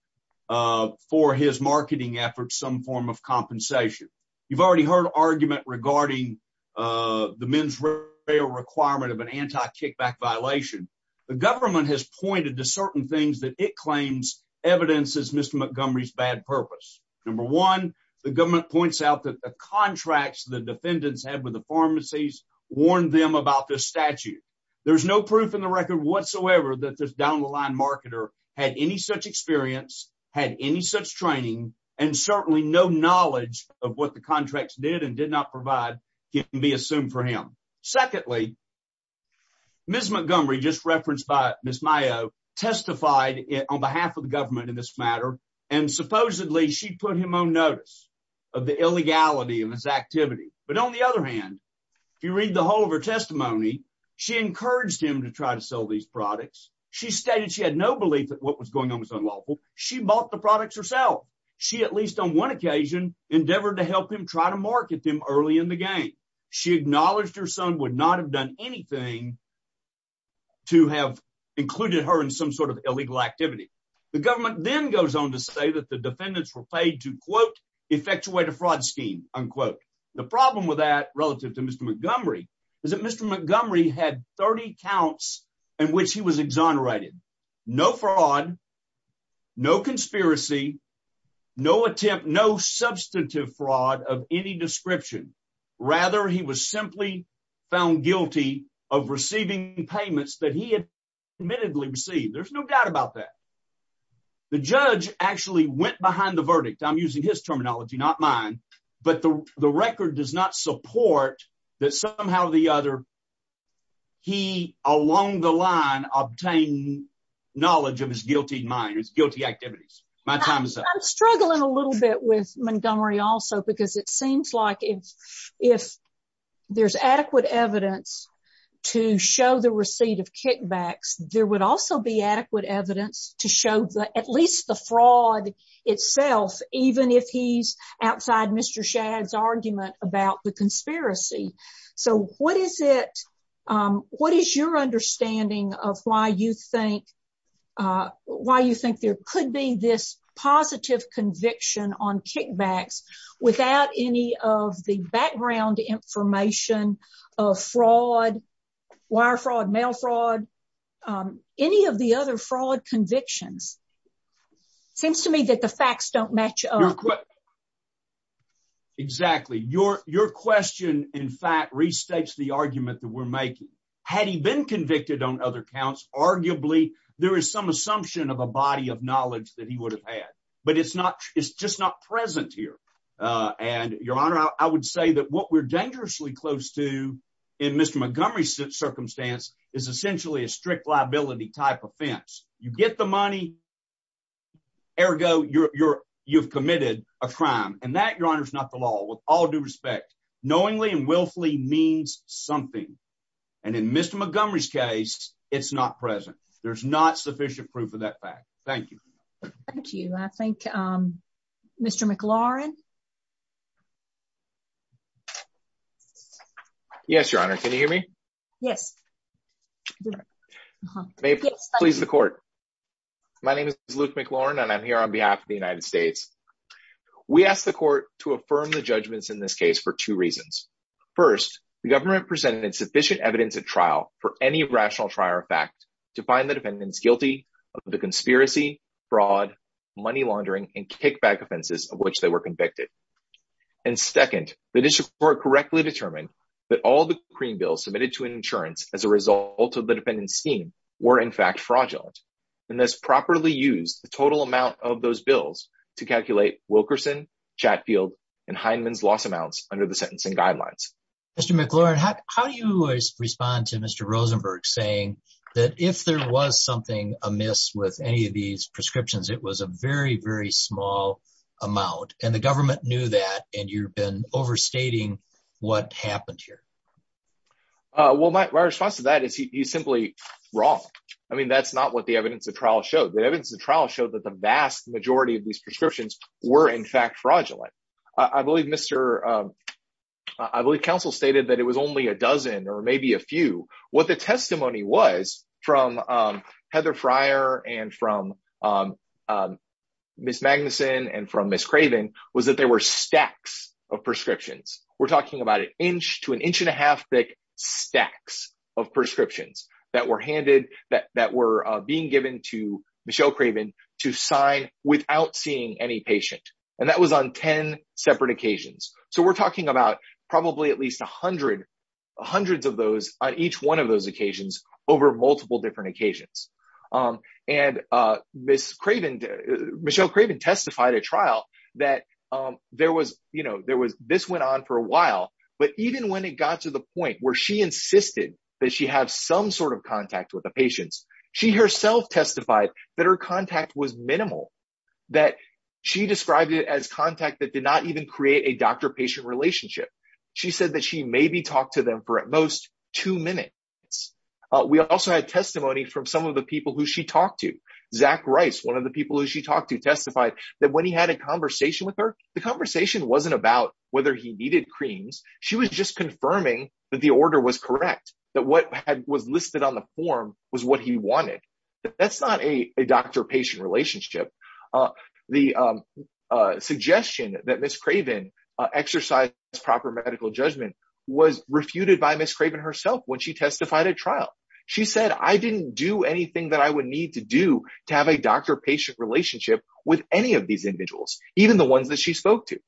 for his marketing efforts some form of compensation. You've already heard argument regarding the men's fair requirement of an anti-kickback violation. The government has pointed to certain things that it claims evidence is Mr. Montgomery's bad purpose. Number one, the government points out that the contracts the defendants had with the pharmacies warned them about this statute. There's no proof in the record whatsoever that this down-the-line marketer had any such experience, had any such training, and certainly no knowledge of what the contracts did and did not provide can be assumed for him. Secondly, Ms. Montgomery, just referenced by Ms. Mayo, testified on behalf of the government in this matter. Supposedly, she put him on notice of the illegality of his activity. On the other hand, if you read the whole of her testimony, she encouraged him to try to sell these products. She stated she had no belief that what was going on was unlawful. She bought the products herself. She, at least on one occasion, endeavored to help him try to market them early in the game. She acknowledged her son would not have done anything to have included her in some sort of illegal activity. The government then goes on to say that the defendants were paid to, quote, effectuate a fraud scheme, unquote. The problem with that relative to Mr. Montgomery is that Mr. Montgomery had 30 counts in which he was exonerated. No fraud, no conspiracy, no attempt, no substantive fraud of any description. Rather, he was simply found guilty of receiving payments that he had admittedly received. There's no doubt about that. The judge actually went behind the verdict. I'm using his terminology, not mine. But the record does not support that somehow or the other he, along the line, obtained knowledge of his guilty mind, his guilty activities. My time is up. I'm struggling a little bit with Montgomery also because it seems like if there's adequate evidence to show the receipt of kickbacks, there would also be adequate evidence to show at least the fraud itself, even if he's outside Mr. Shadd's argument about the conspiracy. So what is it, what is your understanding of why you think, why you think there could be this positive conviction on kickbacks without any of the background information of fraud, wire fraud, mail fraud, any of the other fraud convictions? Seems to me that the facts don't match up. Exactly. Your question, in fact, restates the argument that we're making. Had he been convicted on other counts, arguably there is some assumption of a body of knowledge that he would have had. But it's not, it's just not present here. And, Your Honor, I would say that what we're dangerously close to in Mr. Montgomery's circumstance is essentially a strict liability type offense. You get the money, ergo, you've committed a crime. And that, Your Honor, is not the law. With all due respect, knowingly and willfully means something. And in Mr. Montgomery's case, it's not present. There's not sufficient proof of that fact. Thank you. Thank you. I thank Mr. McLaurin. Yes, Your Honor. Can you hear me? Yes. May it please the court. My name is Luke McLaurin, and I'm here on behalf of the United States. We ask the court to affirm the judgments in this case for two reasons. First, the government presented sufficient evidence at trial for any rational trial or fact to find the defendants guilty of the conspiracy, fraud, money laundering, and kickback offenses of which they were convicted. And second, the district court correctly determined that all the Supreme Bills submitted to an insurance as a result of the defendant's scheme were, in fact, fraudulent. And thus, properly use the total amount of those bills to calculate Wilkerson, Chatfield, and Hindman's loss amounts under the sentencing guidelines. Mr. McLaurin, how do you respond to Mr. Rosenberg saying that if there was something amiss with any of these prescriptions, it was a very, very small amount, and the government knew that, and you've been overstating what happened here? Well, my response to that is he's simply wrong. I mean, that's not what the evidence of trial showed. The evidence of trial showed that the vast majority of these prescriptions were, in fact, fraudulent. I believe counsel stated that it was only a dozen or maybe a few. What the testimony was from Heather Fryer and from Ms. Magnuson and from Ms. Craven was that there were stacks of prescriptions. We're talking about an inch to an inch and a half thick stacks of prescriptions that were handed, that were being given to Michelle Craven to sign without seeing any patient. And that was on 10 separate occasions. So we're talking about probably at least 100 of those on each one of those occasions over multiple different occasions. And Ms. Craven, Michelle Craven testified at trial that there was, you know, there was, this went on for a while, but even when it got to the point where she insisted that she have some sort of contact with the patients, she herself testified that her contact was minimal, that she described it as contact that did not even create a doctor-patient relationship. She said that she maybe talked to them for at most two minutes. We also had testimony from some of the people who she talked to. Zach Rice, one of the people who she talked to, testified that when he had a conversation with her, the conversation wasn't about whether he needed creams. She was just confirming that the order was correct, that what was listed on the form was what he wanted. That's not a doctor-patient relationship. The suggestion that Ms. Craven exercise proper medical judgment was refuted by Ms. Craven herself when she testified at trial. She said, I didn't do anything that I would need to do to have a doctor-patient relationship with any of these individuals, even the ones that she spoke to.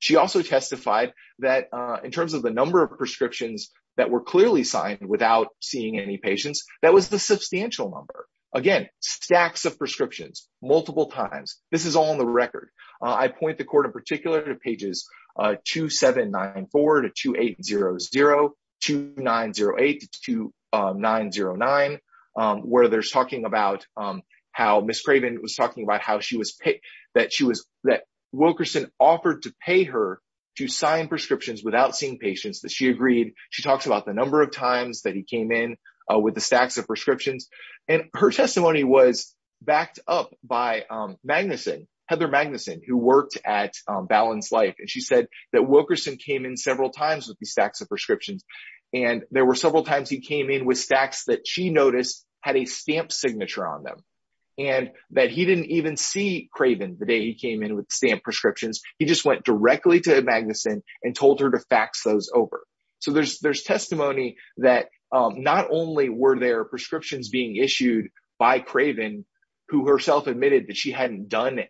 She also testified that in terms of the number of prescriptions that were clearly signed without seeing any patients, that was the substantial number. Again, stacks of prescriptions, multiple times. This is all on the record. I point the court in particular to pages 2794 to 2800, 2908 to 2909, where Ms. Craven was talking about how Wilkerson offered to pay her to sign prescriptions without seeing patients. She agreed. She talked about the number of times that he came in with the stacks of prescriptions. Her testimony was backed up by Magnuson, Heather Magnuson, who worked at Balanced Life. She said that Wilkerson came in several times with these stacks of prescriptions. There were several times he came in with stacks that she noticed had a stamp signature on them and that he didn't even see Craven the day he came in with the stamped prescriptions. He just went directly to Magnuson and told her to fax those over. There's testimony that not only were there prescriptions being issued by Craven, who herself admitted that she hadn't done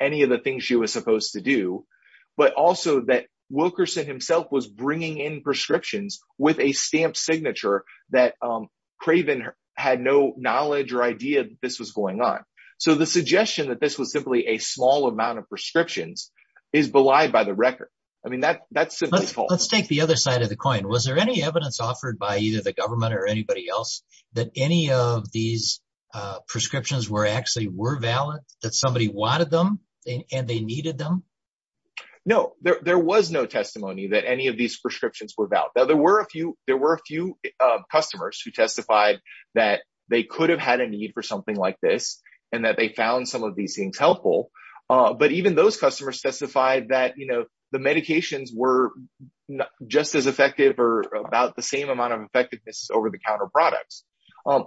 any of the things she was supposed to do, but also that Wilkerson himself was bringing in prescriptions with a stamped signature that Craven had no knowledge or idea that this was going on. The suggestion that this was simply a small amount of prescriptions is belied by the record. That's simply false. Let's take the other side of the coin. Was there any evidence offered by either the government or anybody else that any of these prescriptions were actually were valid, that somebody wanted them and they needed them? No, there was no testimony that any of these prescriptions were valid. There were a few customers who testified that they could have had a need for something like this and that they found some of these things helpful. But even those customers specified that the medications were just as effective or about the same amount of effectiveness over the counter products. I'm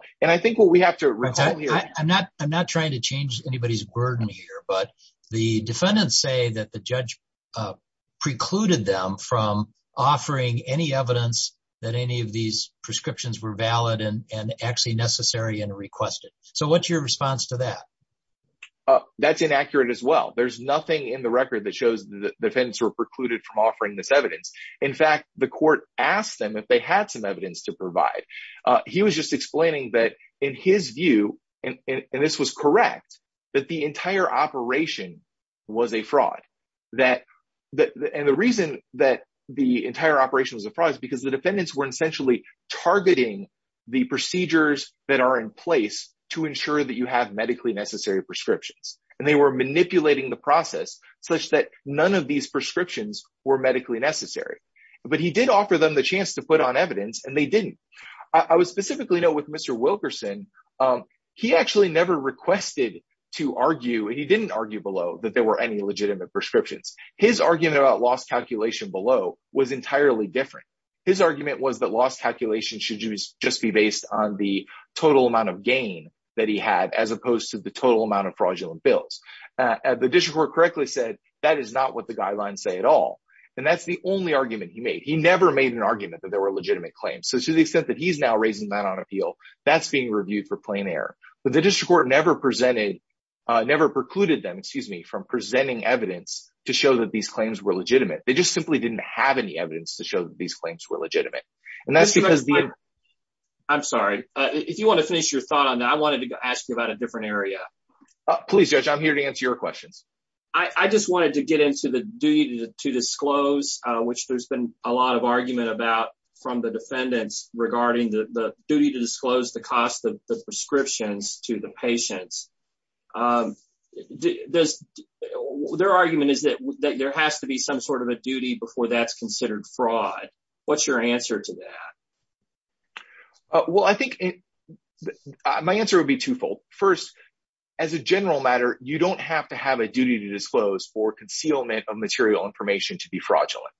not trying to change anybody's burden here, but the defendants say that the judge precluded them from offering any evidence that any of these prescriptions were valid and actually necessary and requested. So what's your response to that? That's inaccurate as well. There's nothing in the record that shows the defendants were precluded from offering this evidence. In fact, the court asked them if they had some evidence to provide. He was just explaining that in his view, and this was correct, that the entire operation was a fraud. And the reason that the entire operation was a fraud is because the defendants were essentially targeting the procedures that are in place to ensure that you have medically necessary prescriptions. And they were manipulating the process such that none of these prescriptions were medically necessary. But he did offer them the chance to put on evidence and they didn't. I would specifically note with Mr. Wilkerson, he actually never requested to argue, and he didn't argue below, that there were any legitimate prescriptions. His argument about loss calculation below was entirely different. His argument was that loss calculation should just be based on the total amount of gain that he had as opposed to the total amount of fraudulent bills. The district court correctly said that is not what the guidelines say at all. And that's the only argument he made. He never made an argument that there were legitimate claims. So to the extent that he's now raising that on appeal, that's being reviewed for plain error. But the district court never precluded them from presenting evidence to show that these claims were legitimate. They just simply didn't have any evidence to show that these claims were legitimate. I'm sorry. If you want to finish your thought on that, I wanted to ask you about a different area. Please, Judge. I'm here to answer your question. I just wanted to get into the duty to disclose, which there's been a lot of argument about from the defendants regarding the duty to disclose the cost of the prescriptions to the patients. Their argument is that there has to be some sort of a duty before that's considered fraud. What's your answer to that? Well, I think my answer would be twofold. First, as a general matter, you don't have to have a duty to disclose for concealment of material information to be fraudulent.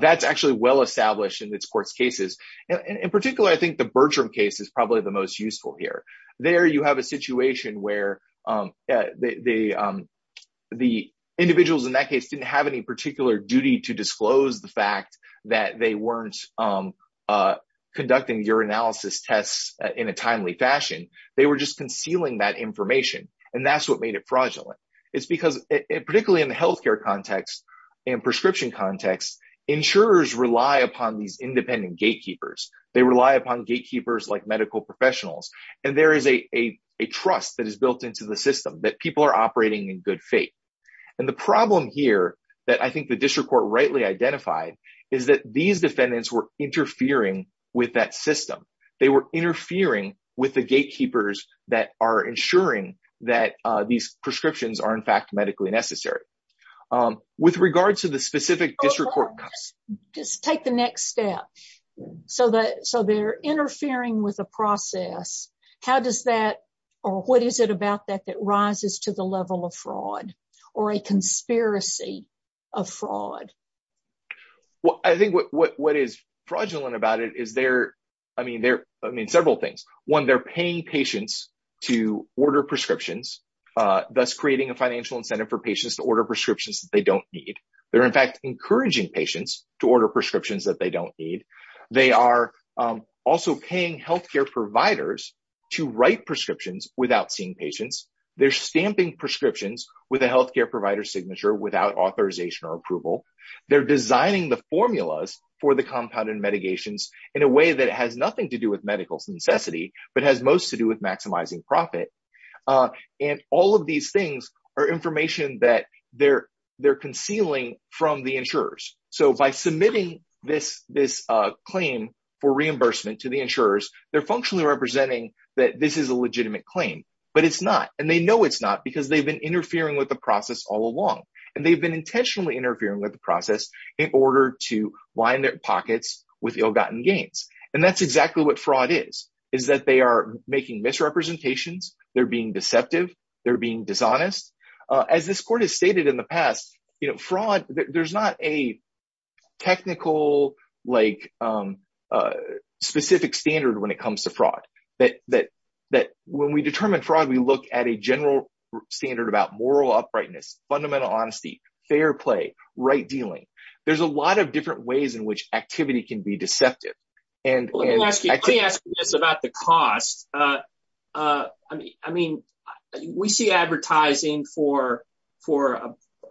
That's actually well established in this court's cases. In particular, I think the Bertram case is probably the most useful here. There you have a situation where the individuals in that case didn't have any particular duty to disclose the fact that they weren't conducting urinalysis tests in a timely fashion. They were just concealing that information, and that's what made it fraudulent. It's because, particularly in the healthcare context and prescription context, insurers rely upon these independent gatekeepers. They rely upon gatekeepers like medical professionals, and there is a trust that is built into the system that people are operating in good faith. And the problem here that I think the district court rightly identified is that these defendants were interfering with that system. They were interfering with the gatekeepers that are ensuring that these prescriptions are, in fact, medically necessary. With regard to the specific district court... Just take the next step. So they're interfering with the process. How does that, or what is it about that that rises to the level of fraud or a conspiracy of fraud? Well, I think what is fraudulent about it is several things. One, they're paying patients to order prescriptions. That's creating a financial incentive for patients to order prescriptions that they don't need. They're, in fact, encouraging patients to order prescriptions that they don't need. They are also paying healthcare providers to write prescriptions without seeing patients. They're stamping prescriptions with a healthcare provider's signature without authorization or approval. They're designing the formulas for the compounded mitigations in a way that has nothing to do with medical necessity, but has most to do with maximizing profit. And all of these things are information that they're concealing from the insurers. So by submitting this claim for reimbursement to the insurers, they're functionally representing that this is a legitimate claim. But it's not, and they know it's not because they've been interfering with the process all along. And they've been intentionally interfering with the process in order to line their pockets with ill-gotten gains. And that's exactly what fraud is, is that they are making misrepresentations, they're being deceptive, they're being dishonest. As this court has stated in the past, you know, fraud, there's not a technical, like, specific standard when it comes to fraud. When we determine fraud, we look at a general standard about moral uprightness, fundamental honesty, fair play, right dealing. There's a lot of different ways in which activity can be deceptive. Let me ask you this about the cost. I mean, we see advertising for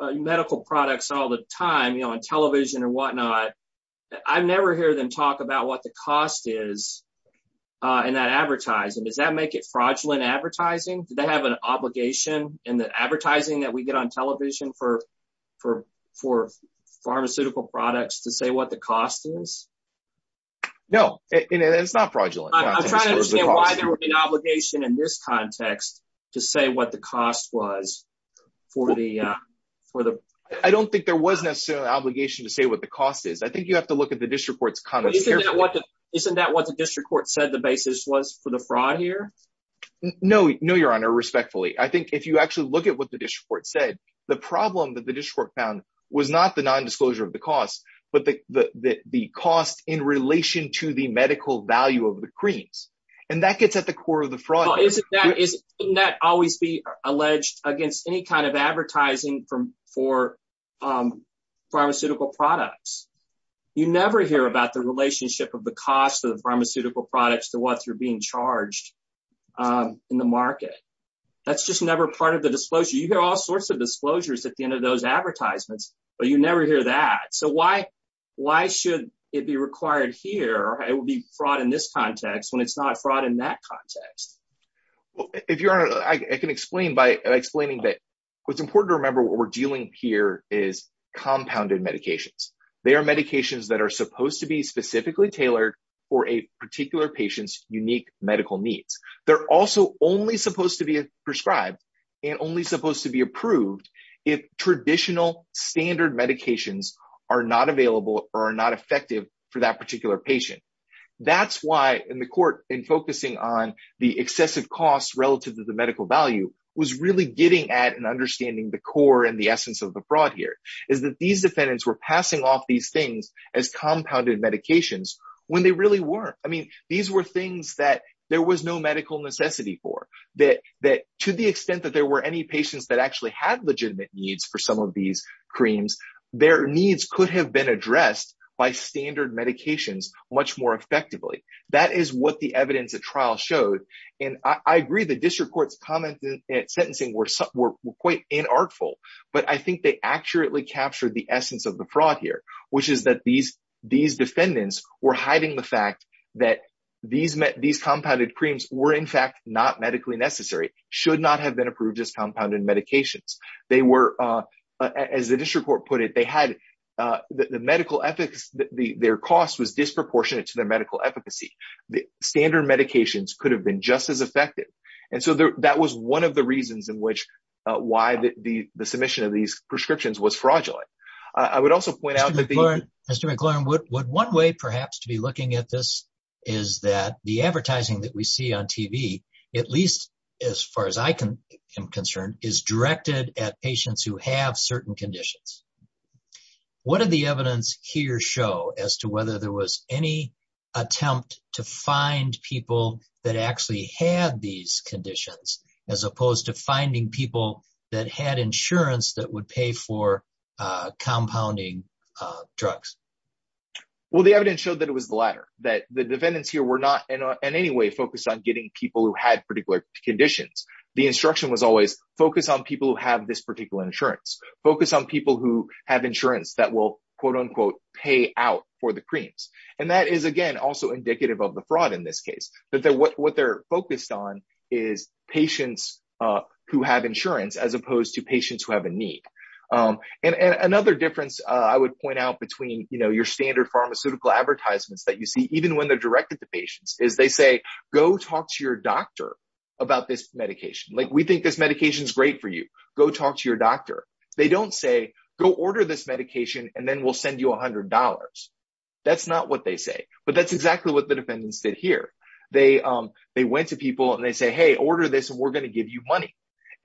medical products all the time, you know, on television and whatnot. I never hear them talk about what the cost is in that advertising. Does that make it fraudulent advertising? Do they have an obligation in the advertising that we get on television for pharmaceutical products to say what the cost is? No, it's not fraudulent. I'm trying to understand why there was an obligation in this context to say what the cost was for the... I don't think there was necessarily an obligation to say what the cost is. I think you have to look at the district court's comments. Isn't that what the district court said the basis was for the fraud here? No, your honor, respectfully. I think if you actually look at what the district court said, the problem that the district court found was not the nondisclosure of the cost, but the cost in relation to the medical value of the creams. And that gets at the core of the fraud. Shouldn't that always be alleged against any kind of advertising for pharmaceutical products? You never hear about the relationship of the cost of pharmaceutical products to what you're being charged in the market. That's just never part of the disclosure. You hear all sorts of disclosures at the end of those advertisements, but you never hear that. So why should it be required here? It would be fraud in this context when it's not fraud in that context. If your honor, I can explain by explaining that what's important to remember what we're dealing here is compounded medications. They are medications that are supposed to be specifically tailored for a particular patient's unique medical needs. They're also only supposed to be prescribed and only supposed to be approved if traditional standard medications are not available or are not effective for that particular patient. That's why in the court in focusing on the excessive cost relative to the medical value was really getting at and understanding the core and the essence of the fraud here. Is that these defendants were passing off these things as compounded medications when they really weren't. I mean, these were things that there was no medical necessity for. That to the extent that there were any patients that actually had legitimate needs for some of these creams, their needs could have been addressed by standard medications much more effectively. That is what the evidence of trial shows. I agree the district court's comments at sentencing were quite inartful, but I think they accurately captured the essence of the fraud here, which is that these defendants were hiding the fact that these compounded creams were, in fact, not medically necessary. Should not have been approved as compounded medications. As the district court put it, their cost was disproportionate to their medical efficacy. Standard medications could have been just as effective. And so that was one of the reasons in which why the submission of these prescriptions was fraudulent. I would also point out that the. Mr. McLaurin, would one way perhaps to be looking at this is that the advertising that we see on TV, at least as far as I am concerned, is directed at patients who have certain conditions. What did the evidence here show as to whether there was any attempt to find people that actually had these conditions as opposed to finding people that had insurance that would pay for compounding drugs? Well, the evidence showed that it was the latter, that the defendants here were not in any way focused on getting people who had particular conditions. The instruction was always focus on people who have this particular insurance, focus on people who have insurance that will quote unquote pay out for the creams. And that is, again, also indicative of the fraud in this case. But what they're focused on is patients who have insurance as opposed to patients who have a need. And another difference I would point out between, you know, your standard pharmaceutical advertisements that you see, even when they're directed to patients, is they say, go talk to your doctor about this medication. Like, we think this medication is great for you. Go talk to your doctor. They don't say, go order this medication and then we'll send you $100. That's not what they say. But that's exactly what the defendants did here. They went to people and they say, hey, order this and we're going to give you money.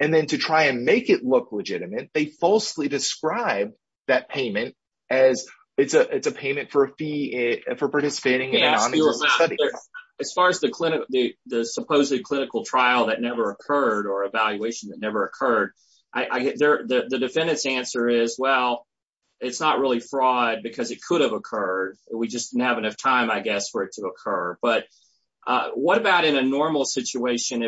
And then to try and make it look legitimate, they falsely describe that payment as it's a payment for a fee for participating. As far as the supposed clinical trial that never occurred or evaluation that never occurred, the defendant's answer is, well, it's not really fraud because it could have occurred. We just didn't have enough time, I guess, for it to occur. But what about in a normal situation,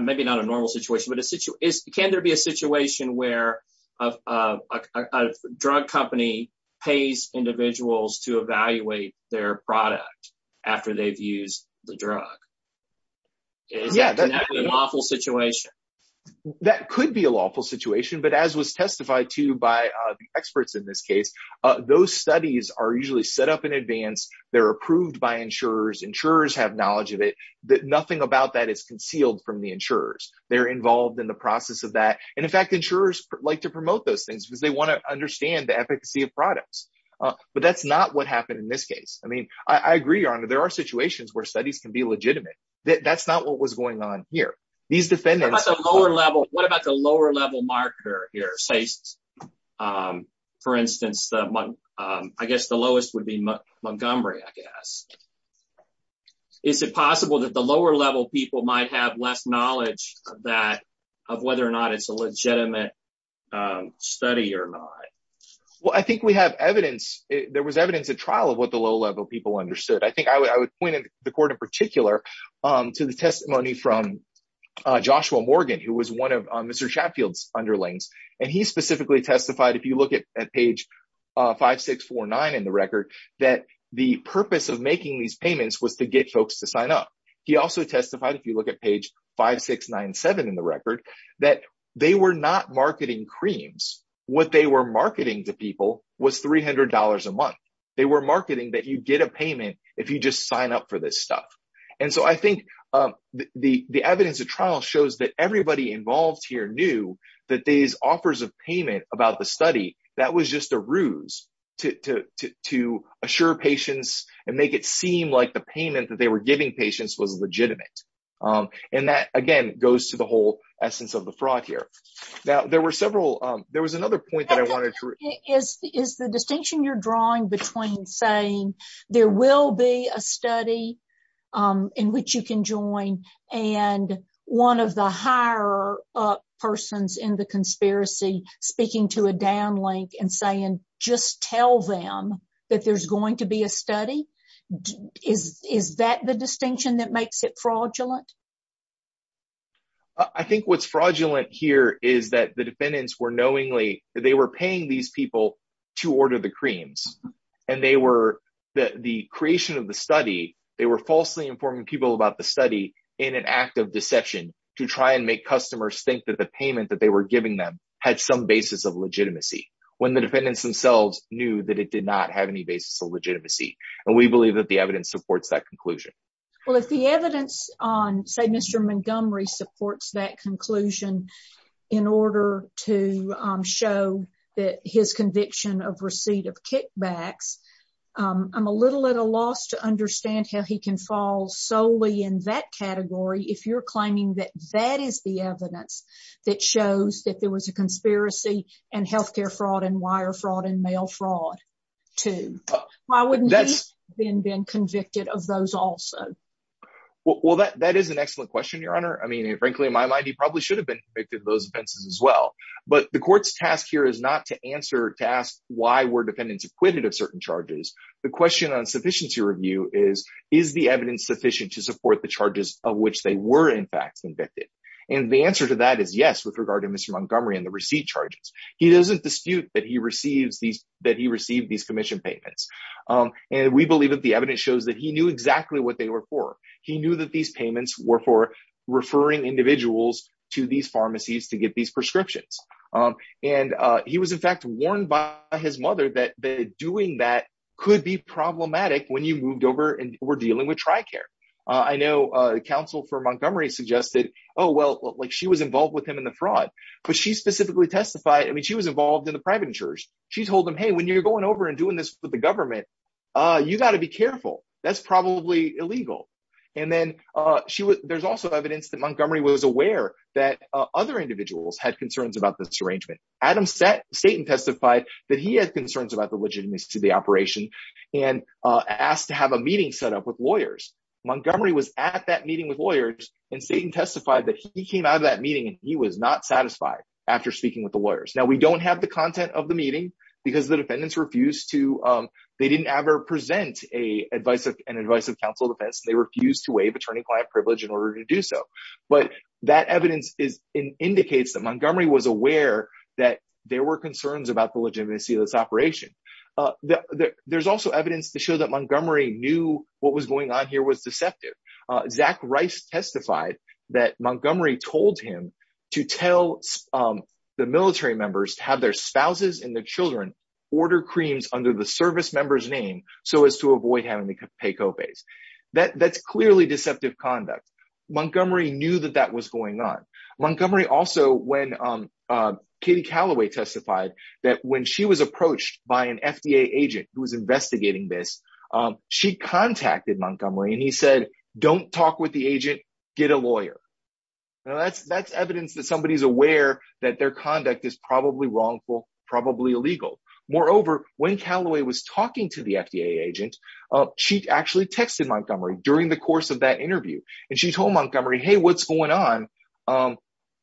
maybe not a normal situation, but can there be a situation where a drug company pays individuals to evaluate their product after they've used the drug? Yeah. That's an awful situation. That could be an awful situation. But as was testified to by the experts in this case, those studies are usually set up in advance. They're approved by insurers. Insurers have knowledge of it. Nothing about that is concealed from the insurers. They're involved in the process of that. And, in fact, insurers like to promote those things because they want to understand the efficacy of products. But that's not what happened in this case. I mean, I agree, Your Honor. There are situations where studies can be legitimate. That's not what was going on here. What about the lower-level marketer here? Say, for instance, I guess the lowest would be Montgomery, I guess. Is it possible that the lower-level people might have less knowledge of that, of whether or not it's a legitimate study or not? Well, I think we have evidence. There was evidence at trial of what the low-level people understood. I think I would point the court in particular to the testimony from Joshua Morgan, who was one of Mr. Chatfield's underlings, and he specifically testified, if you look at page 5649 in the record, that the purpose of making these payments was to get folks to sign up. He also testified, if you look at page 5697 in the record, that they were not marketing creams. What they were marketing to people was $300 a month. They were marketing that you'd get a payment if you just sign up for this stuff. And so I think the evidence at trial shows that everybody involved here knew that these offers of payment about the study, that was just a ruse to assure patients and make it seem like the payment that they were giving patients was legitimate. And that, again, goes to the whole essence of the fraud here. Now, there were several – there was another point that I wanted to – Is the distinction you're drawing between saying there will be a study in which you can join and one of the higher-up persons in the conspiracy speaking to a downlink and saying, just tell them that there's going to be a study? Is that the distinction that makes it fraudulent? I think what's fraudulent here is that the defendants were knowingly – they were paying these people to order the creams. And they were – the creation of the study, they were falsely informing people about the study in an act of deception to try and make customers think that the payment that they were giving them had some basis of legitimacy, when the defendants themselves knew that it did not have any basis of legitimacy. And we believe that the evidence supports that conclusion. Well, if the evidence on, say, Mr. Montgomery supports that conclusion in order to show that his conviction of receipt of kickbacks, I'm a little at a loss to understand how he can fall solely in that category if you're claiming that that is the evidence that shows that there was a conspiracy and healthcare fraud and wire fraud and mail fraud, too. Why wouldn't he have been convicted of those also? Well, that is an excellent question, Your Honor. I mean, frankly, in my mind, he probably should have been convicted of those offenses as well. But the court's task here is not to answer – to ask why were defendants acquitted of certain charges. The question on sufficiency review is, is the evidence sufficient to support the charges of which they were, in fact, convicted? And the answer to that is yes with regard to Mr. Montgomery and the receipt charges. He doesn't dispute that he received these – that he received these commission payments. And we believe that the evidence shows that he knew exactly what they were for. He knew that these payments were for referring individuals to these pharmacies to get these prescriptions. And he was, in fact, warned by his mother that doing that could be problematic when you moved over and were dealing with TRICARE. I know counsel for Montgomery suggested, oh, well, she was involved with him in the fraud. But she specifically testified – I mean, she was involved in the private insurers. She told them, hey, when you're going over and doing this with the government, you've got to be careful. That's probably illegal. And then there's also evidence that Montgomery was aware that other individuals had concerns about this arrangement. Adam – Satan testified that he had concerns about the legitimacy of the operation and asked to have a meeting set up with lawyers. Montgomery was at that meeting with lawyers, and Satan testified that he came out of that meeting and he was not satisfied after speaking with the lawyers. Now, we don't have the content of the meeting because the defendants refused to – they didn't ever present an advice of counsel defense. They refused to waive attorney-client privilege in order to do so. But that evidence indicates that Montgomery was aware that there were concerns about the legitimacy of this operation. There's also evidence to show that Montgomery knew what was going on here was deceptive. Zach Rice testified that Montgomery told him to tell the military members to have their spouses and their children order creams under the service member's name so as to avoid having to pay co-pays. That's clearly deceptive conduct. Montgomery knew that that was going on. Montgomery also, when – Katie Calloway testified that when she was approached by an FDA agent who was investigating this, she contacted Montgomery and he said, don't talk with the agent, get a lawyer. Now, that's evidence that somebody's aware that their conduct is probably wrongful, probably illegal. Moreover, when Calloway was talking to the FDA agent, she actually texted Montgomery during the course of that interview. And she told Montgomery, hey, what's going on?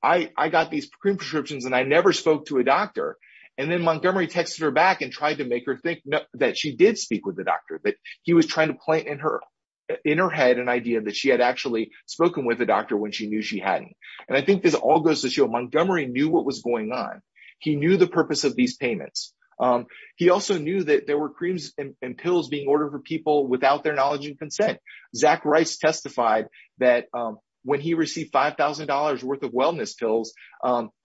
I got these cream prescriptions and I never spoke to a doctor. And then Montgomery texted her back and tried to make her think that she did speak with the doctor, that he was trying to plant in her head an idea that she had actually spoken with a doctor when she knew she hadn't. And I think this all goes to show Montgomery knew what was going on. He knew the purpose of these payments. He also knew that there were creams and pills being ordered for people without their knowledge and consent. Zach Rice testified that when he received $5,000 worth of wellness pills,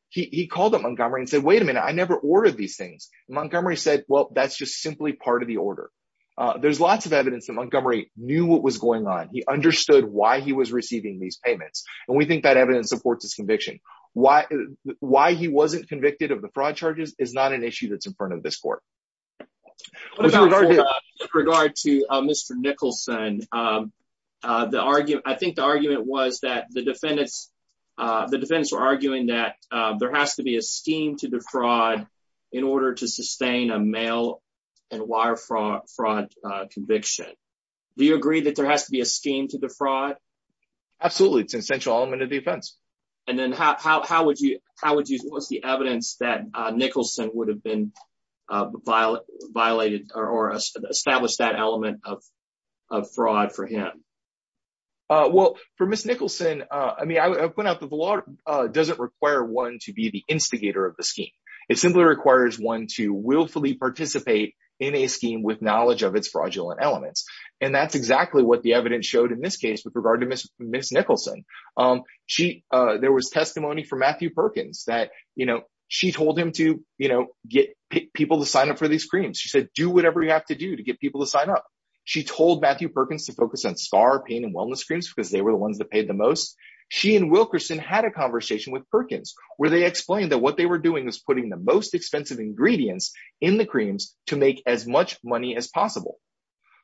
he called up Montgomery and said, wait a minute, I never ordered these things. Montgomery said, well, that's just simply part of the order. There's lots of evidence that Montgomery knew what was going on. He understood why he was receiving these payments. And we think that evidence supports his conviction. Why he wasn't convicted of the fraud charges is not an issue that's in front of this court. With regard to Mr. Nicholson, I think the argument was that the defendants were arguing that there has to be a scheme to defraud in order to sustain a mail and wire fraud conviction. Do you agree that there has to be a scheme to defraud? Absolutely. It's an essential element of defense. And then how would you, what's the evidence that Nicholson would have been violated or established that element of fraud for him? Well, for Ms. Nicholson, I mean, I would point out that the law doesn't require one to be the instigator of the scheme. It simply requires one to willfully participate in a scheme with knowledge of its fraudulent elements. And that's exactly what the evidence showed in this case with regard to Ms. Nicholson. There was testimony from Matthew Perkins that, you know, she told him to, you know, get people to sign up for these creams. She said, do whatever you have to do to get people to sign up. She told Matthew Perkins to focus on scar pain and wellness creams because they were the ones that paid the most. She and Wilkerson had a conversation with Perkins where they explained that what they were doing was putting the most expensive ingredients in the creams to make as much money as possible.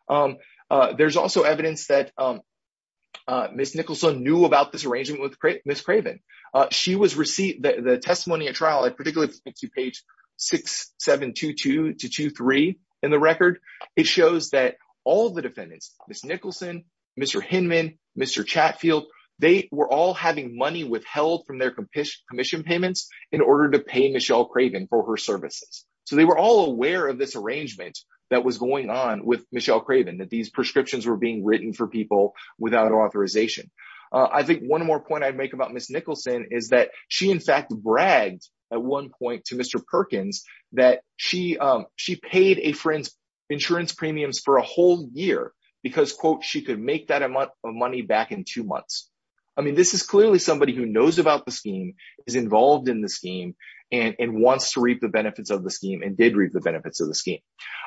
There's also evidence that Ms. Nicholson knew about this arrangement with Ms. Craven. She was received the testimony at trial, particularly page 6722-23 in the record. It shows that all of the defendants, Ms. Nicholson, Mr. Hinman, Mr. Chatfield, they were all having money withheld from their commission payments in order to pay Michelle Craven for her services. So they were all aware of this arrangement that was going on with Michelle Craven, that these prescriptions were being written for people without authorization. I think one more point I'd make about Ms. Nicholson is that she in fact bragged at one point to Mr. Perkins that she paid a friend's insurance premiums for a whole year because, quote, she could make that amount of money back in two months. I mean, this is clearly somebody who knows about the scheme, is involved in the scheme, and wants to reap the benefits of the scheme and did reap the benefits of the scheme.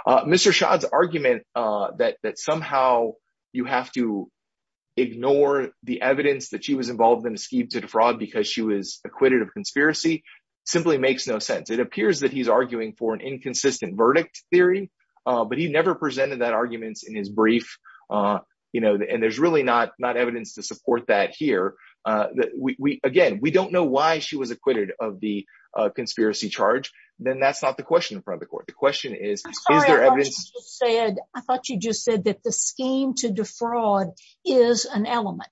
Mr. Chad's argument that somehow you have to ignore the evidence that she was involved in a scheme to defraud because she was acquitted of conspiracy simply makes no sense. It appears that he's arguing for an inconsistent verdict theory, but he never presented that argument in his brief. And there's really not evidence to support that here. Again, we don't know why she was acquitted of the conspiracy charge. Then that's not the question in front of the court. The question is, is there evidence? I thought you just said that the scheme to defraud is an element,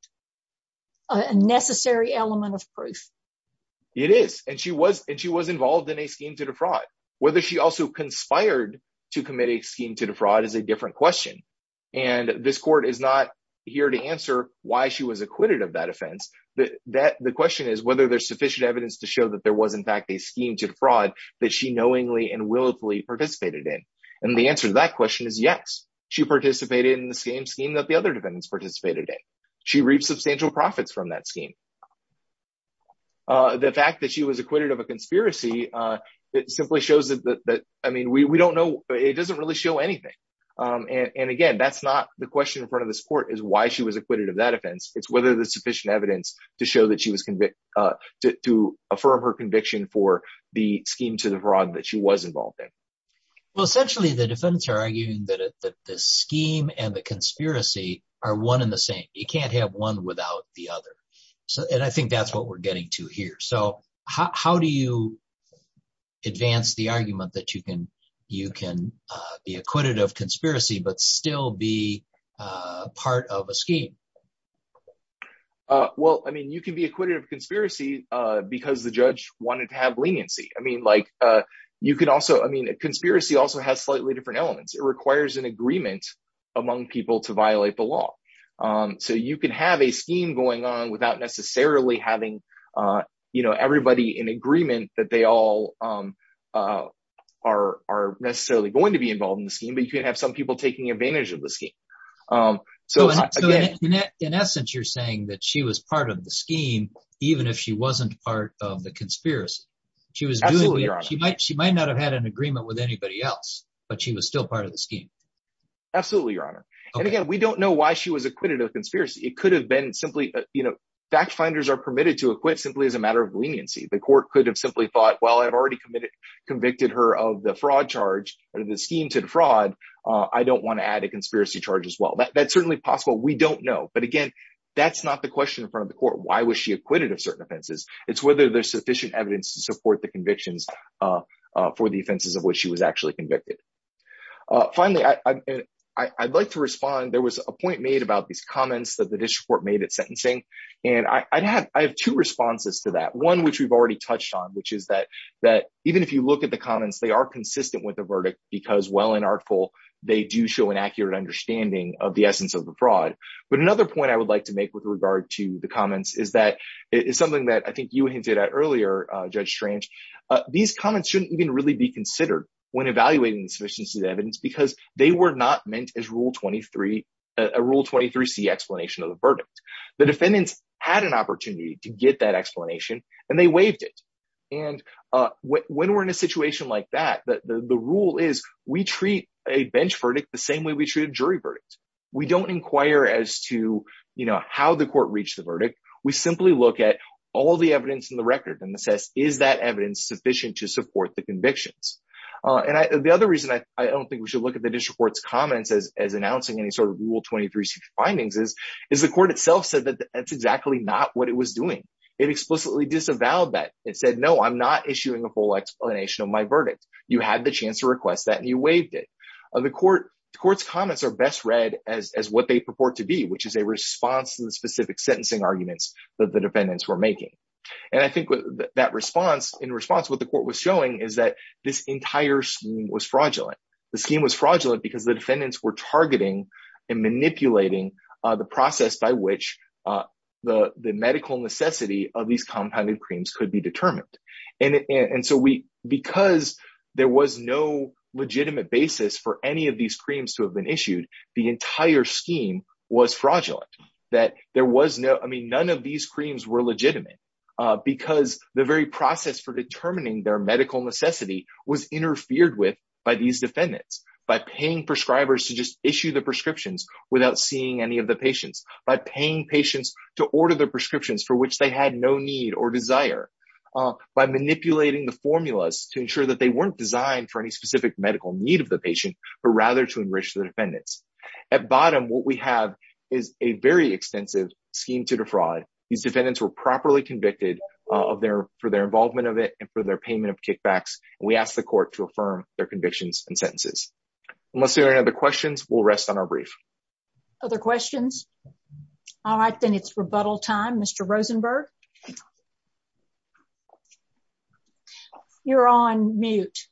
a necessary element of proof. It is, and she was involved in a scheme to defraud. Whether she also conspired to commit a scheme to defraud is a different question. And this court is not here to answer why she was acquitted of that offense. The question is whether there's sufficient evidence to show that there was in fact a scheme to defraud that she knowingly and willfully participated in. And the answer to that question is yes. She participated in the same scheme that the other defendants participated in. She reaped substantial profits from that scheme. The fact that she was acquitted of a conspiracy, it simply shows that, I mean, we don't know. It doesn't really show anything. And again, that's not the question in front of this court is why she was acquitted of that offense. It's whether there's sufficient evidence to show that she was to affirm her conviction for the scheme to defraud that she was involved in. Well, essentially, the defendants are arguing that the scheme and the conspiracy are one and the same. You can't have one without the other. And I think that's what we're getting to here. So how do you advance the argument that you can be acquitted of conspiracy but still be part of a scheme? Well, I mean, you can be acquitted of conspiracy because the judge wanted to have leniency. I mean, like, you could also, I mean, a conspiracy also has slightly different elements. It requires an agreement among people to violate the law. So you can have a scheme going on without necessarily having, you know, everybody in agreement that they all are necessarily going to be involved in the scheme. But you can have some people taking advantage of the scheme. So in essence, you're saying that she was part of the scheme even if she wasn't part of the conspiracy. Absolutely, Your Honor. She might not have had an agreement with anybody else, but she was still part of the scheme. Absolutely, Your Honor. And again, we don't know why she was acquitted of conspiracy. It could have been simply, you know, fact finders are permitted to acquit simply as a matter of leniency. The court could have simply thought, well, I've already convicted her of the fraud charge or the scheme to defraud. I don't want to add a conspiracy charge as well. That's certainly possible. We don't know. But again, that's not the question in front of the court. Why was she acquitted of certain offenses? It's whether there's sufficient evidence to support the convictions for the offenses of which she was actually convicted. Finally, I'd like to respond. There was a point made about these comments that the district court made at sentencing, and I have two responses to that. One, which we've already touched on, which is that even if you look at the comments, they are consistent with the verdict because, while inarticulate, they do show an accurate understanding of the essence of the fraud. But another point I would like to make with regard to the comments is that it's something that I think you hinted at earlier, Judge Strange. These comments shouldn't even really be considered when evaluating the sufficiency of evidence because they were not meant as a Rule 23C explanation of the verdict. The defendants had an opportunity to get that explanation, and they waived it. And when we're in a situation like that, the rule is we treat a bench verdict the same way we treat a jury verdict. We don't inquire as to, you know, how the court reached the verdict. We simply look at all the evidence in the record and assess, is that evidence sufficient to support the convictions? And the other reason I don't think we should look at the district court's comments as announcing any sort of Rule 23C findings is the court itself said that that's exactly not what it was doing. It explicitly disavowed that. It said, no, I'm not issuing a full explanation of my verdict. You had the chance to request that, and you waived it. The court's comments are best read as what they purport to be, which is a response to the specific sentencing arguments that the defendants were making. And I think that response, in response to what the court was showing, is that this entire scheme was fraudulent. The scheme was fraudulent because the defendants were targeting and manipulating the process by which the medical necessity of these compounding claims could be determined. And so because there was no legitimate basis for any of these claims to have been issued, the entire scheme was fraudulent. That there was no, I mean, none of these claims were legitimate because the very process for determining their medical necessity was interfered with by these defendants. By paying prescribers to just issue the prescriptions without seeing any of the patients. By paying patients to order the prescriptions for which they had no need or desire. By manipulating the formulas to ensure that they weren't designed for any specific medical need of the patient, but rather to enrich the defendants. At bottom, what we have is a very extensive scheme to defraud. These defendants were properly convicted for their involvement of it and for their payment of kickbacks. And we ask the court to affirm their convictions and sentences. Unless there are any other questions, we'll rest on our brief. Other questions? I think it's rebuttal time, Mr. Rosenberg. You're on mute.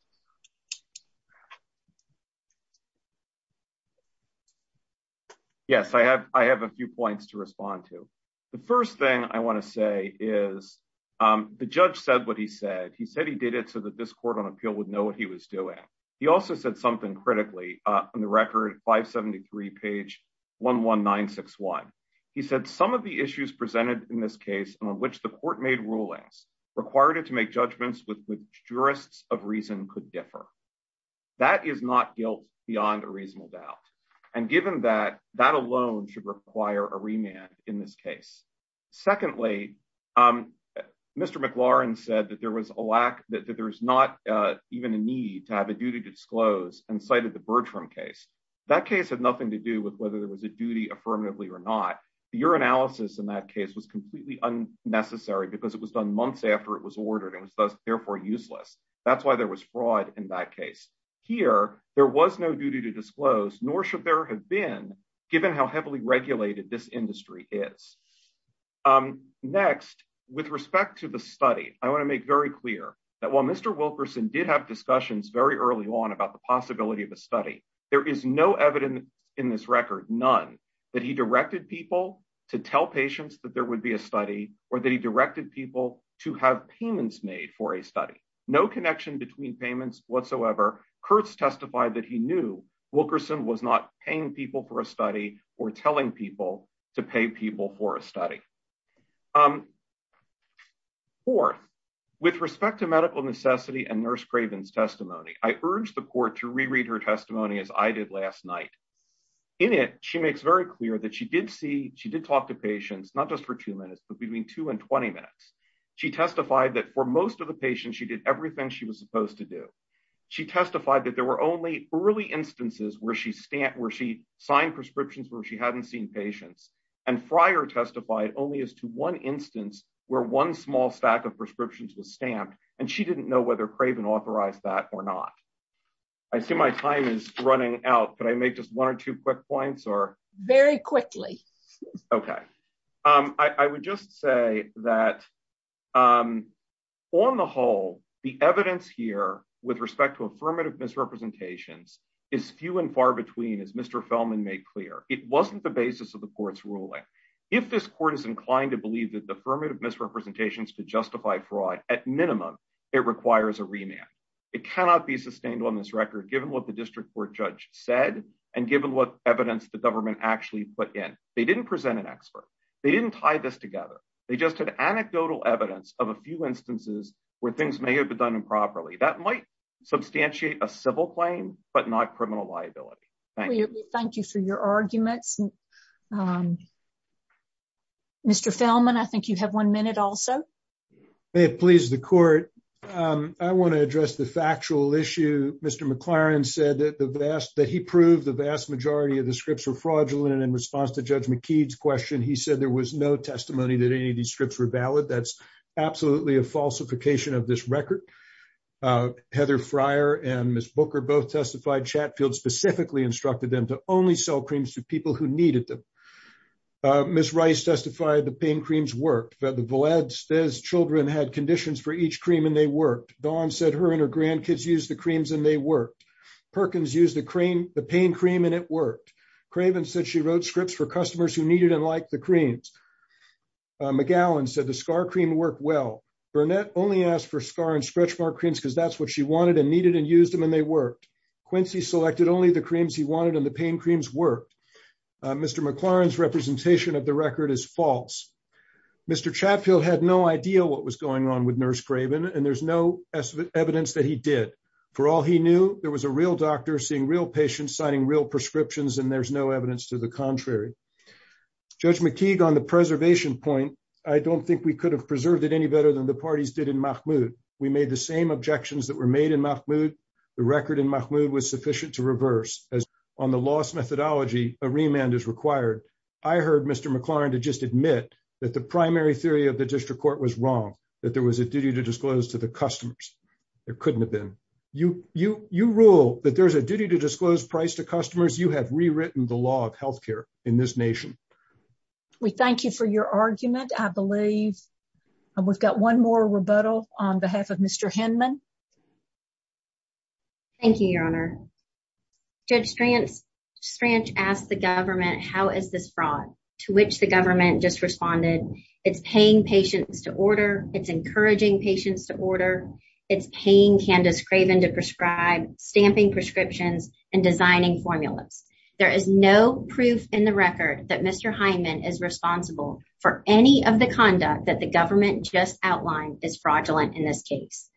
Yes, I have a few points to respond to. The first thing I want to say is the judge said what he said. He said he did it so that this court on appeal would know what he was doing. He also said something critically on the record, 573 page 11961. He said some of the issues presented in this case on which the court made rulings required it to make judgments with jurists of reason could differ. That is not guilt beyond a reasonable doubt. And given that, that alone should require a remand in this case. Secondly, Mr. McLaurin said that there was a lack, that there's not even a need to have a duty disclosed and cited the Bertram case. That case had nothing to do with whether there was a duty affirmatively or not. Your analysis in that case was completely unnecessary because it was done months after it was ordered and was therefore useless. That's why there was fraud in that case. Here, there was no duty to disclose, nor should there have been, given how heavily regulated this industry is. Next, with respect to the study, I want to make very clear that while Mr. Wilkerson did have discussions very early on about the possibility of a study, there is no evidence in this record. None that he directed people to tell patients that there would be a study or that he directed people to have payments made for a study. No connection between payments whatsoever. Here, Kurtz testified that he knew Wilkerson was not paying people for a study or telling people to pay people for a study. Fourth, with respect to medical necessity and Nurse Craven's testimony, I urge the court to reread her testimony as I did last night. In it, she makes very clear that she did see, she did talk to patients, not just for two minutes, but between two and 20 minutes. She testified that for most of the patients, she did everything she was supposed to do. She testified that there were only early instances where she signed prescriptions where she hadn't seen patients. And Fryer testified only as to one instance where one small stack of prescriptions was stamped, and she didn't know whether Craven authorized that or not. I see my time is running out. Could I make just one or two quick points? Very quickly. OK, I would just say that on the whole, the evidence here with respect to affirmative misrepresentations is few and far between. As Mr. Feldman made clear, it wasn't the basis of the court's ruling. If this court is inclined to believe that the affirmative misrepresentations to justify fraud, at minimum, it requires a remand. It cannot be sustained on this record, given what the district court judge said and given what evidence the government actually put in. They didn't present an expert. They didn't tie this together. They just had anecdotal evidence of a few instances where things may have been done improperly. That might substantiate a civil claim, but not criminal liability. Thank you for your argument. Mr. Feldman, I think you have one minute also. It pleased the court. I want to address the factual issue. Mr. McLaren said that the vast that he proved the vast majority of the scripts were fraudulent. In response to Judge McKee's question, he said there was no testimony that any of these scripts were valid. That's absolutely a falsification of this record. Heather Fryer and Ms. Booker both testified. Chatfield specifically instructed them to only sell creams to people who needed them. Ms. Rice testified the pain creams worked. The Valades children had conditions for each cream and they worked. Dawn said her and her grandkids used the creams and they worked. Perkins used the pain cream and it worked. Craven said she wrote scripts for customers who needed and liked the creams. McGowan said the scar cream worked well. Burnett only asked for scar and stretch mark creams because that's what she wanted and needed and used them and they worked. Quincy selected only the creams he wanted and the pain creams worked. Mr. McLaren's representation of the record is false. Mr. Chatfield had no idea what was going on with Nurse Craven and there's no evidence that he did. For all he knew, there was a real doctor seeing real patients signing real prescriptions and there's no evidence to the contrary. Judge McKee, on the preservation point, I don't think we could have preserved it any better than the parties did in Mahmoud. We made the same objections that were made in Mahmoud. The record in Mahmoud was sufficient to reverse. On the lost methodology, a remand is required. I heard Mr. McLaren to just admit that the primary theory of the district court was wrong, that there was a duty to disclose to the customers. It couldn't have been. You rule that there's a duty to disclose price to customers. You have rewritten the law of health care in this nation. We thank you for your argument, I believe. We've got one more rebuttal on behalf of Mr. Hinman. Thank you, Your Honor. Judge Stranch asked the government, how is this fraud? To which the government just responded, it's paying patients to order, it's encouraging patients to order, it's paying Candace Craven to prescribe, stamping prescriptions, and designing formulas. There is no proof in the record that Mr. Hinman is responsible for any of the conduct that the government just outlined is fraudulent in this case.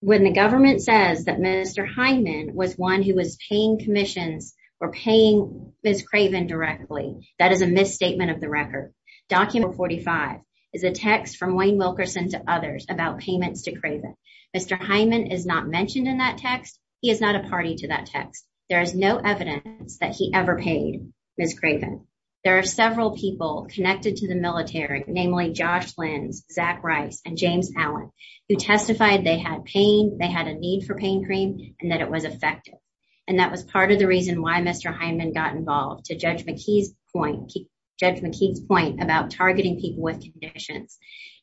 When the government says that Mr. Hinman was one who was paying commissions or paying Ms. Craven directly, that is a misstatement of the record. Document 45 is a text from Wayne Wilkerson to others about payments to Craven. Mr. Hinman is not mentioned in that text. He is not a party to that text. There is no evidence that he ever paid Ms. Craven. There are several people connected to the military, namely Josh Flynn, Zach Rice, and James Allen, who testified they had pain, they had a need for pain cream, and that it was effective. And that was part of the reason why Mr. Hinman got involved, to Judge McKee's point about targeting people with conditions.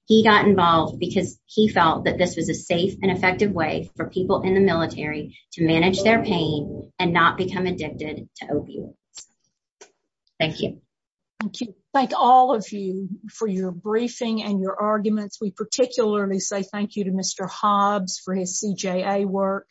He got involved because he felt that this was a safe and effective way for people in the military to manage their pain and not become addicted to opioids. Thank you. Thank you. Thank all of you for your briefing and your arguments. We particularly say thank you to Mr. Hobbs for his CJA work,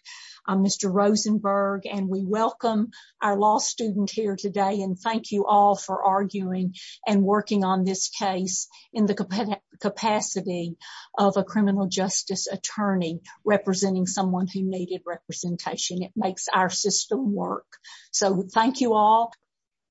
Mr. Rosenberg, and we welcome our law student here today and thank you all for arguing and working on this case in the capacity of a criminal justice attorney representing someone who needed representation. It makes our system work. So thank you all.